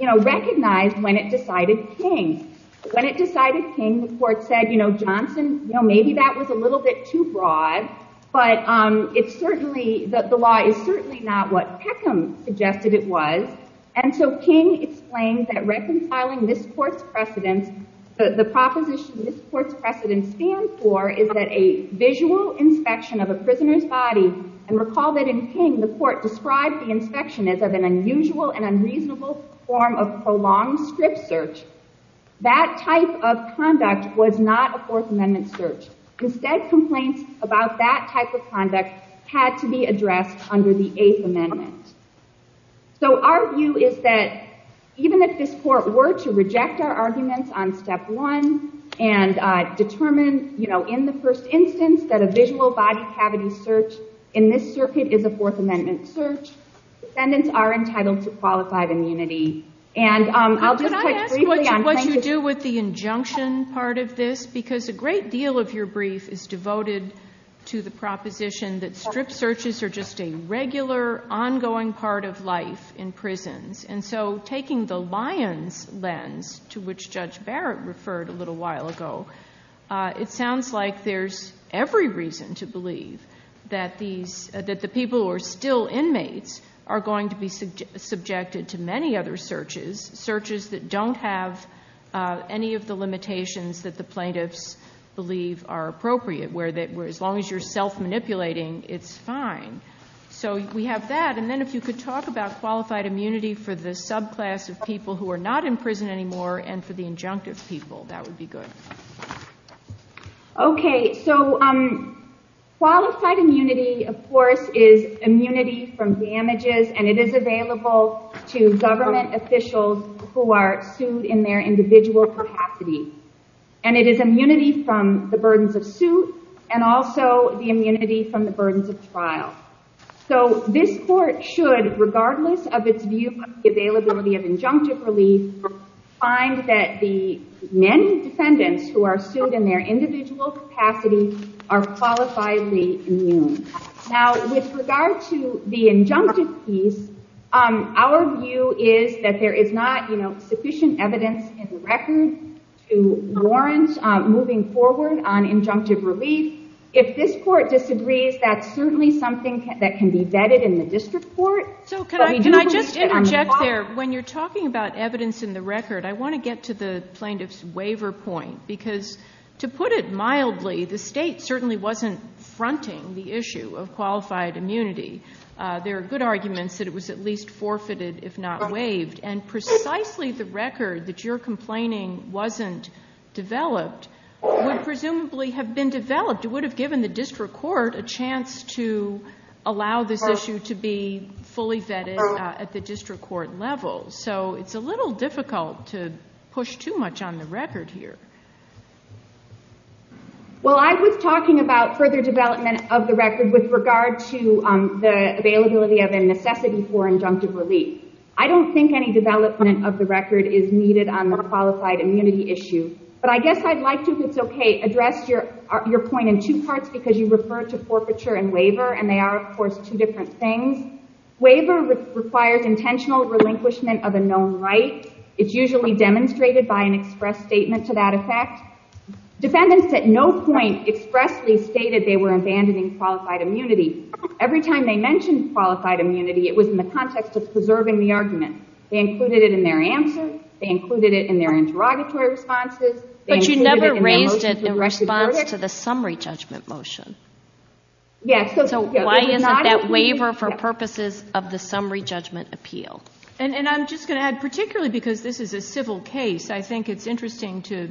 recognized when it decided King. When it decided King, the court said, Johnson, maybe that was a little bit too broad. But the law is certainly not what Peckham suggested it was. And so King explains that reconciling this court's precedents, the proposition this court's precedents stand for is that a visual inspection of a prisoner's body, and recall that in King, the court described the inspection as an unusual and unreasonable form of prolonged strip search, that type of conduct was not a Fourth Amendment search. Instead, complaints about that type of conduct had to be addressed under the Eighth Amendment. So our view is that even if this court were to reject our arguments on step one and determine in the first instance that a visual body cavity search in this circuit is a Fourth Amendment search, defendants are entitled to qualified immunity. And I'll just touch briefly on King's case. Can I ask what you do with the injunction part of this? Because a great deal of your brief is devoted to the proposition that strip searches are just a regular, ongoing part of life in prisons. And so taking the lion's lens, to which Judge Barrett referred a little while ago, it sounds like there's every reason to believe that the people who are still inmates are going to be subjected to many other searches, searches that don't have any of the limitations that the plaintiffs believe are appropriate, where as long as you're self-manipulating, it's fine. So we have that. And then if you could talk about qualified immunity for the subclass of people who are not in prison anymore and for the injunctive people, that would be good. OK, so qualified immunity, of course, is immunity from damages. And it is available to government officials who are sued in their individual capacity. And it is immunity from the burdens of suit and also the immunity from the burdens of trial. So this court should, regardless of its view availability of injunctive relief, find that the many defendants who are sued in their individual capacity are qualifiably immune. Now, with regard to the injunctive piece, our view is that there is not sufficient evidence and records to warrant moving forward on injunctive release. If this court disagrees, that's certainly something that can be vetted in the district court. So can I just interject there? When you're talking about evidence in the record, I want to get to the plaintiff's waiver point. Because to put it mildly, the state certainly wasn't fronting the issue of qualified immunity. There are good arguments that it was at least forfeited, if not waived. And precisely the record that you're complaining wasn't developed would presumably have been developed. It would have given the district court a chance to allow this issue to be fully vetted at the district court level. So it's a little difficult to push too much on the record here. Well, I was talking about further development of the record with regard to the availability of a necessity for injunctive relief. I don't think any development of the record is needed on the qualified immunity issue. But I guess I'd like to address your point in two parts, because you referred to forfeiture and waiver. And they are, of course, two different things. Waiver requires intentional relinquishment of a known right. It's usually demonstrated by an express statement to that effect. Defendants at no point expressly stated they were abandoning qualified immunity. Every time they mentioned qualified immunity, it was in the context of preserving the argument. They included it in their answers. They included it in their interrogatory responses. But you never raised it in response to the summary judgment motion. So why isn't that waiver for purposes of the summary judgment appeal? And I'm just going to add, particularly because this is a civil case, I think it's interesting to,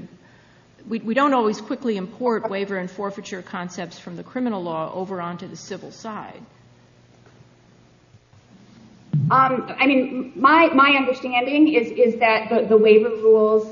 we don't always quickly import waiver and forfeiture concepts from the criminal law over onto the civil side. I mean, my understanding is that the waiver rules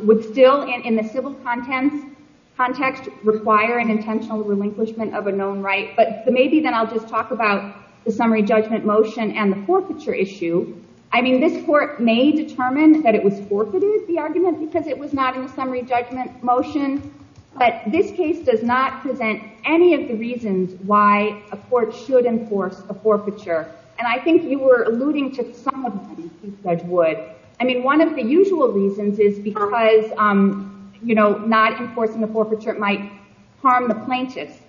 would still, in the civil context, require an intentional relinquishment of a known right. But maybe then I'll just talk about the summary judgment motion and the forfeiture issue. I mean, this court may determine that it was forfeited, the argument, because it was not in the summary judgment motion. But this case does not present any of the reasons why a court should enforce a forfeiture. And I think you were alluding to some of them, who said would. I mean, one of the usual reasons is because not enforcing the forfeiture might harm the plaintiff.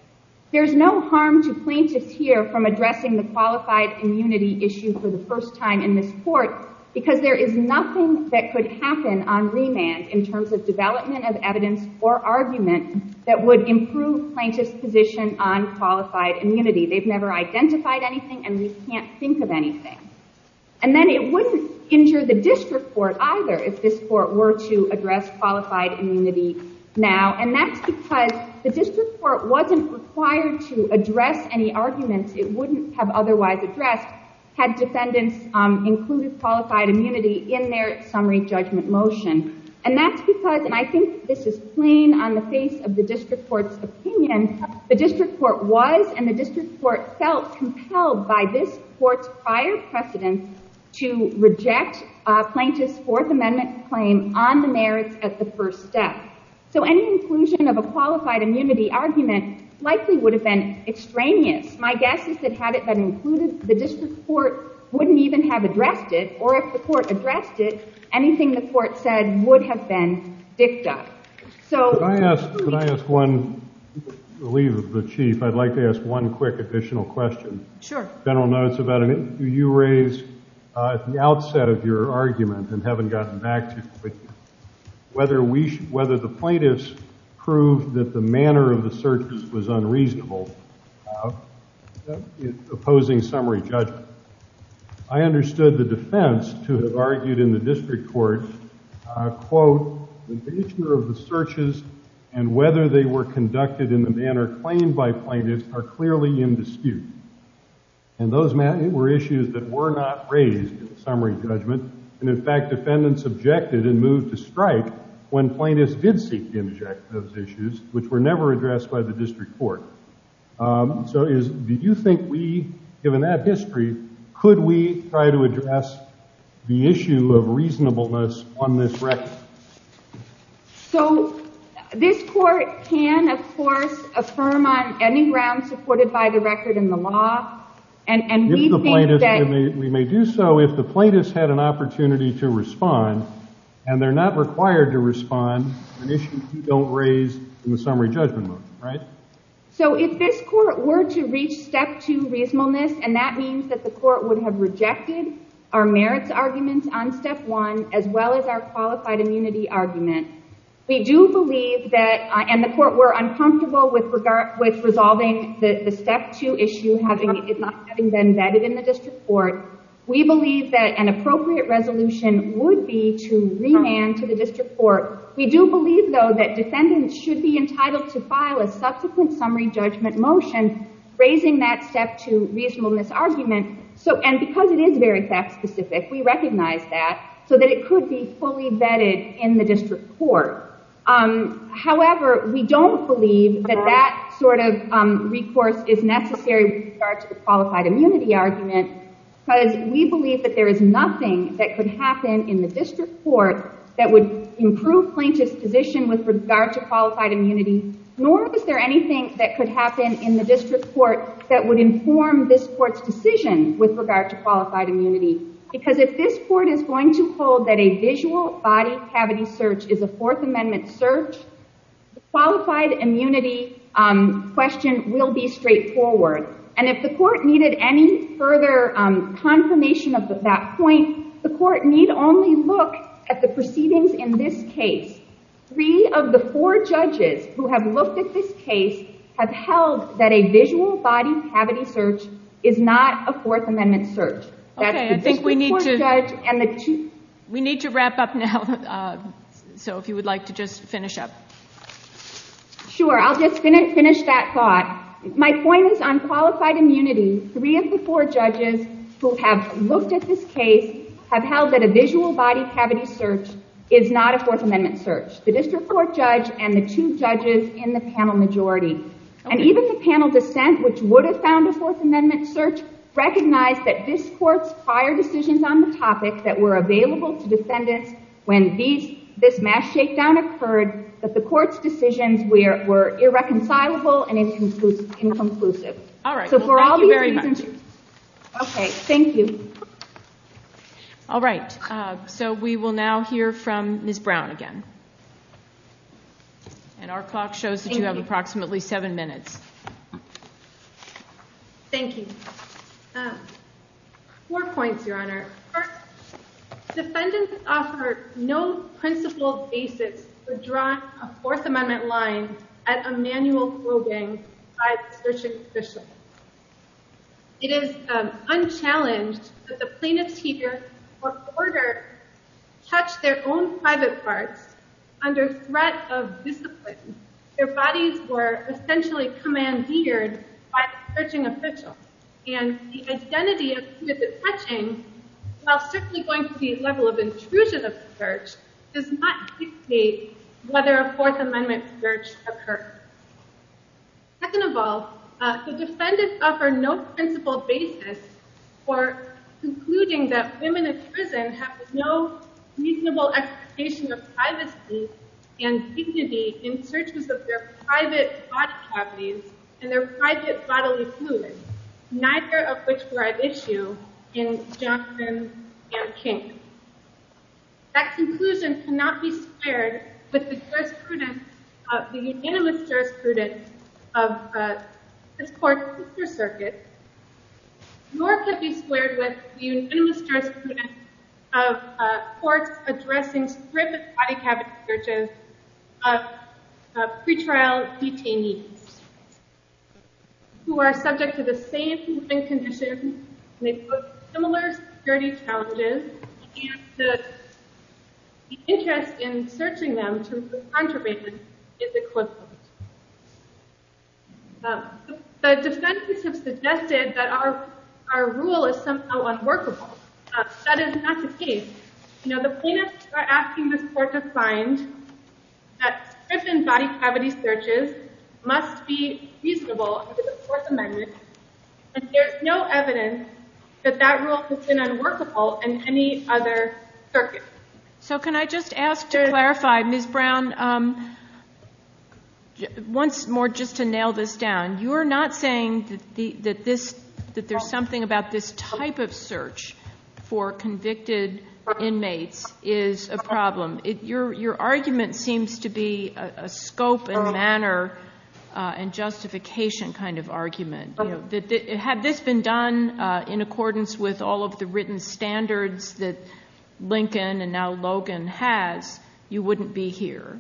There's no harm to plaintiffs here from addressing the qualified immunity issue for the first time in this court, because there is nothing that could happen on remand in terms of development of evidence or argument that would improve plaintiff's position on qualified immunity. They've never identified anything, and they can't think of anything. And then it wouldn't injure the district court either if this court were to address qualified immunity now. And that's because the district court wasn't required to address any arguments it wouldn't have otherwise addressed had defendants included qualified immunity in their summary judgment motion. And that's because, and I think this is plain on the face of the district court's opinion, the district court was and the district court felt compelled by this court's prior precedence to reject plaintiff's Fourth Amendment claim on the merits at the first step. So any inclusion of a qualified immunity argument likely would have been extraneous. My guess is that had it been included, the district court wouldn't even have addressed it, or if the court addressed it, anything the court said would have been fixed up. So. If I ask one, the leader of the chief, I'd like to ask one quick additional question. Sure. General notes about it. You raised at the outset of your argument, and haven't gotten back to it, whether the plaintiffs proved that the manner of the searches was unreasonable in opposing summary judgment. I understood the defense to have argued in the district court, quote, the nature of the searches and whether they were conducted in the manner claimed by plaintiffs are clearly in dispute. And those were issues that were not raised in the summary judgment. And in fact, defendants objected and moved to strike when plaintiffs did seek to interject those issues, which were never addressed by the district court. So do you think we, given that history, could we try to address the issue of reasonableness on this record? So this court can, of course, affirm on any grounds supported by the record in the law. And we think that we may do so if the plaintiffs had an opportunity to respond. And they're not required to respond to issues we don't raise in the summary judgment, right? So if this court were to reach step two reasonableness, and that means that the court would have rejected our merits arguments on step one, as well as our qualified immunity argument, we do believe that, and the court were uncomfortable with resolving the step two issue having been vetted in the district court. We believe that an appropriate resolution would be to remand to the district court. We do believe, though, that defendants should be entitled to file a subsequent summary judgment motion raising that step two reasonableness argument. And because it is very fact specific, we recognize that, so that it could be fully vetted in the district court. However, we don't believe that that sort of recourse is necessary with regards to the qualified immunity argument, because we believe that there is nothing that could happen in the district court that would improve plaintiff's position with regard to qualified immunity, nor is there anything that could happen in the district court that would inform this court's decision with regard to qualified immunity. Because if this court is going to hold that a visual body cavity search is a Fourth Amendment search, the qualified immunity question will be straightforward. And if the court needed any further confirmation of that point, the court need only look at the proceedings in this case. Three of the four judges who have looked at this case have held that a visual body cavity search is not a Fourth Amendment search. We need to wrap up now. So if you would like to just finish up. Sure. I'll just finish that thought. My point is on qualified immunity, three of the four judges who have looked at this case have held that a visual body cavity search is not a Fourth Amendment search. The district court judge and the two judges in the panel majority. And even the panel dissent which would found the Fourth Amendment search recognized that this court's prior decisions on the topic that were available to defendants when this mass shakedown occurred, that the court's decisions were irreconcilable and inconclusive. All right. Thank you very much. OK. Thank you. All right. So we will now hear from Ms. Brown again. And our clock shows that we have approximately seven minutes. Thank you. Four points, Your Honor. First, defendants offered no principled basis to draw a Fourth Amendment line as a manual clothing by the district official. It is unchallenged that the plaintiff's teacher or quarter touched their own private parts under threat of discipline. Their bodies were essentially commandeered by a searching official. And the identity of who this is touching, while strictly going to the level of intrusion of the search, does not dictate whether a Fourth Amendment search occurs. Second of all, the defendants offer no principled basis for concluding that women in prison have no reasonable expectation of privacy and dignity in searches of their private body properties and their private bodily fluids, neither of which were at issue in Johnson and King. That conclusion cannot be shared with the jurisprudence of the unanimous jurisprudence of the court's sister circuit, nor can it be shared with the unanimous jurisprudence of courts addressing frigid body-cabin searches of pretrial detainees who are subject to the same conditions and may pose similar security challenges, and the interest in searching them to the contrary is equivalent. The defense system suggested that our rule is somehow unworkable. That is not the case. Now, the plaintiffs are asking the court to find that frigid body-cabin searches must be feasible under the Fourth Amendment, and there is no evidence that that rule has been unworkable in any other circuit. So can I just ask to clarify, Ms. Brown, once more just to nail this down, you are not saying that there's something about this type of search for convicted inmates is a problem. Your argument seems to be a scope and manner and justification kind of argument. Had this been done in accordance with all of the written standards that Lincoln and now Logan has, you wouldn't be here.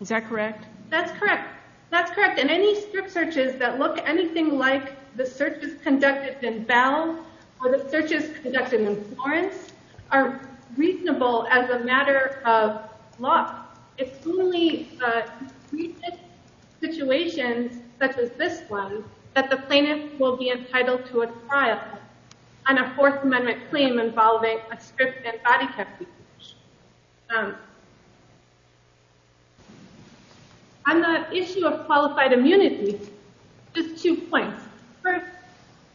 Is that correct? That's correct. That's correct. And any search searches that look anything like the searches conducted in Bell or the searches conducted in Florence are reasonable as a matter of law. It's only a recent situation, such as this one, that the plaintiff will be entitled to a trial on a Fourth Amendment claim involving a frigid body-cabin search. On the issue of qualified immunity, just two points. First,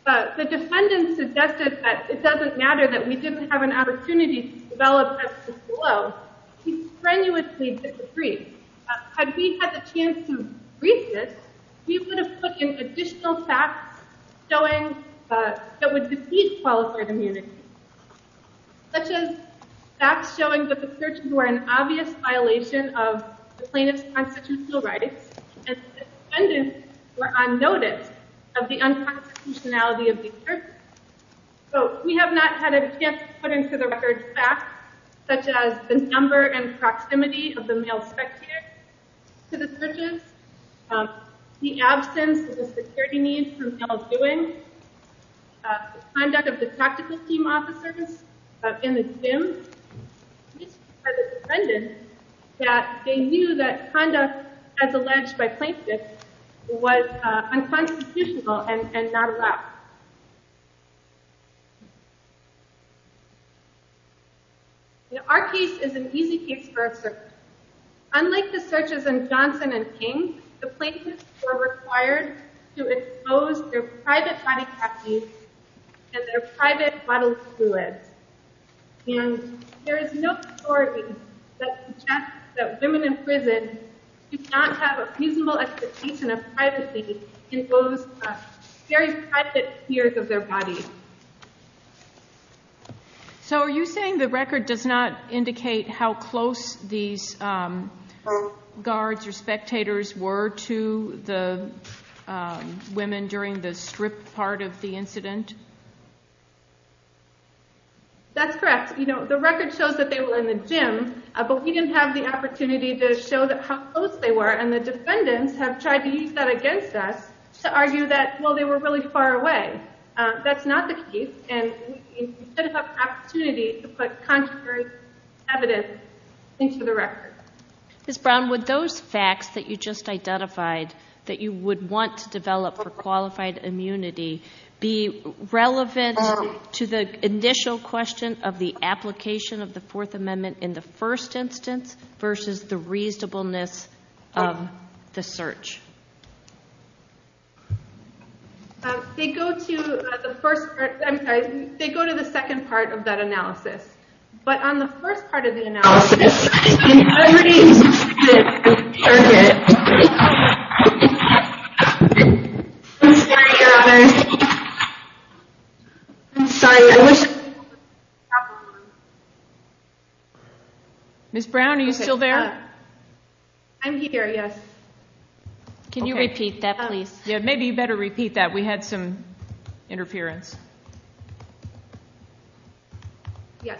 the defendant suggested that it doesn't matter that we didn't have an opportunity to develop at the soil, he strenuously disagrees. Had we had the chance to read this, we could have put in additional facts that would defeat qualified immunity, such as facts showing that the searches were an obvious violation of the plaintiff's constitutional rights, and that the defendants were on notice of the unconstitutionality of these searches. But we have not had a chance to put into the record facts such as the number and proximity of the male sex care to the searches, the absence of the security needs from ill-doing, conduct of the tactical team officers in the gym, or the defendant that they knew that conduct as alleged by plaintiffs was unconstitutional and not allowed. Our case is an easy case for a search. Unlike the searches in Johnson and King, the plaintiffs were required to expose their private body copies and their private bottled fluids. And there is no recording that suggests that women in prison did not have a reasonable expectation of privacy in those very private spheres of their bodies. So are you saying the record does not show what the spectators were to the women during the strict part of the incident? That's correct. The record shows that they were in the gym. But we didn't have the opportunity to show how close they were. And the defendants have tried to use that against us to argue that, well, they were really far away. That's not the case. And we didn't have the opportunity to put contrary evidence into the record. Ms. Brown, would those facts that you just identified that you would want to develop for qualified immunity be relevant to the initial question of the application of the Fourth Amendment in the first instance versus the reasonableness of the search? They go to the second part of that analysis. But on the first part of the analysis, I think every instance of the search is important. I'm sorry. I'm sorry. Ms. Brown, are you still there? I'm here, yes. Can you repeat that, please? Yeah, maybe you better repeat that. We had some interference. Yes.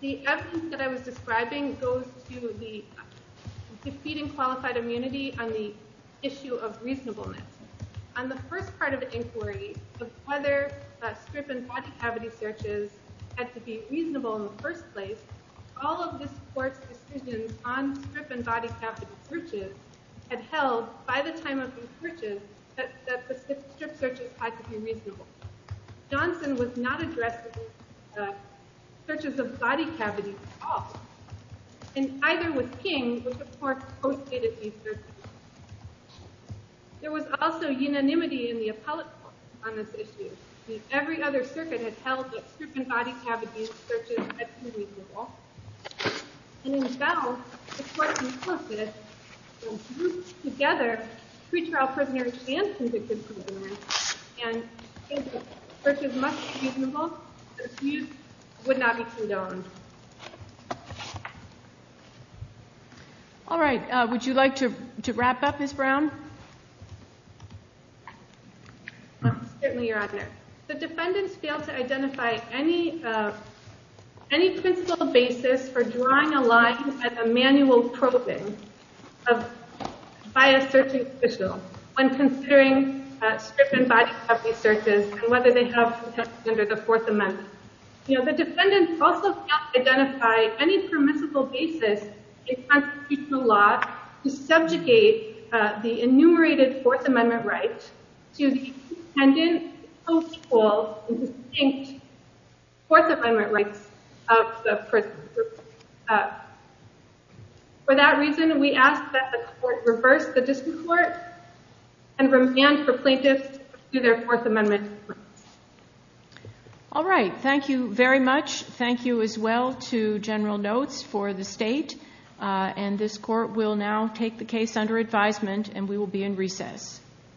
The evidence that I was describing goes to the succeeding qualified immunity on the issue of reasonableness. On the first part of the inquiry, whether strip and body cavity searches had to be reasonable in the first place, all of the court's decisions on strip and body cavity searches have held, by the time of these searches, that the strip searches had to be reasonable. Johnson was not addressing the searches of body cavities at all. And either was King, who supports both state-of-the-art searches. There was also unanimity in the appellate court on this issue. Every other circuit has held that strip and body cavity searches had to be reasonable. And in Bell, the court concluded, when grouped together, pre-trial prisoners and consensual prisoners. And if the search was much reasonable, the abuse would not be condoned. All right. Would you like to wrap up, Ms. Brown? Certainly, Your Honor. The defendants failed to identify any principle basis for drawing a line at a manual probing by a search official on considering strip and body cavity searches, and whether they have to be tested under the Fourth Amendment. You know, the defendants also failed to identify any principle basis in constitutional law to subjugate the enumerated Fourth Amendment rights to the dependent, host, or distinct Fourth Amendment rights of the person. For that reason, we ask that the court reverse the district court and remand for plaintiffs to their Fourth Amendment rights. All right. Thank you very much. Thank you, as well, to General Notes for the state. And this court will now take the case under advisement, and we will be in recess.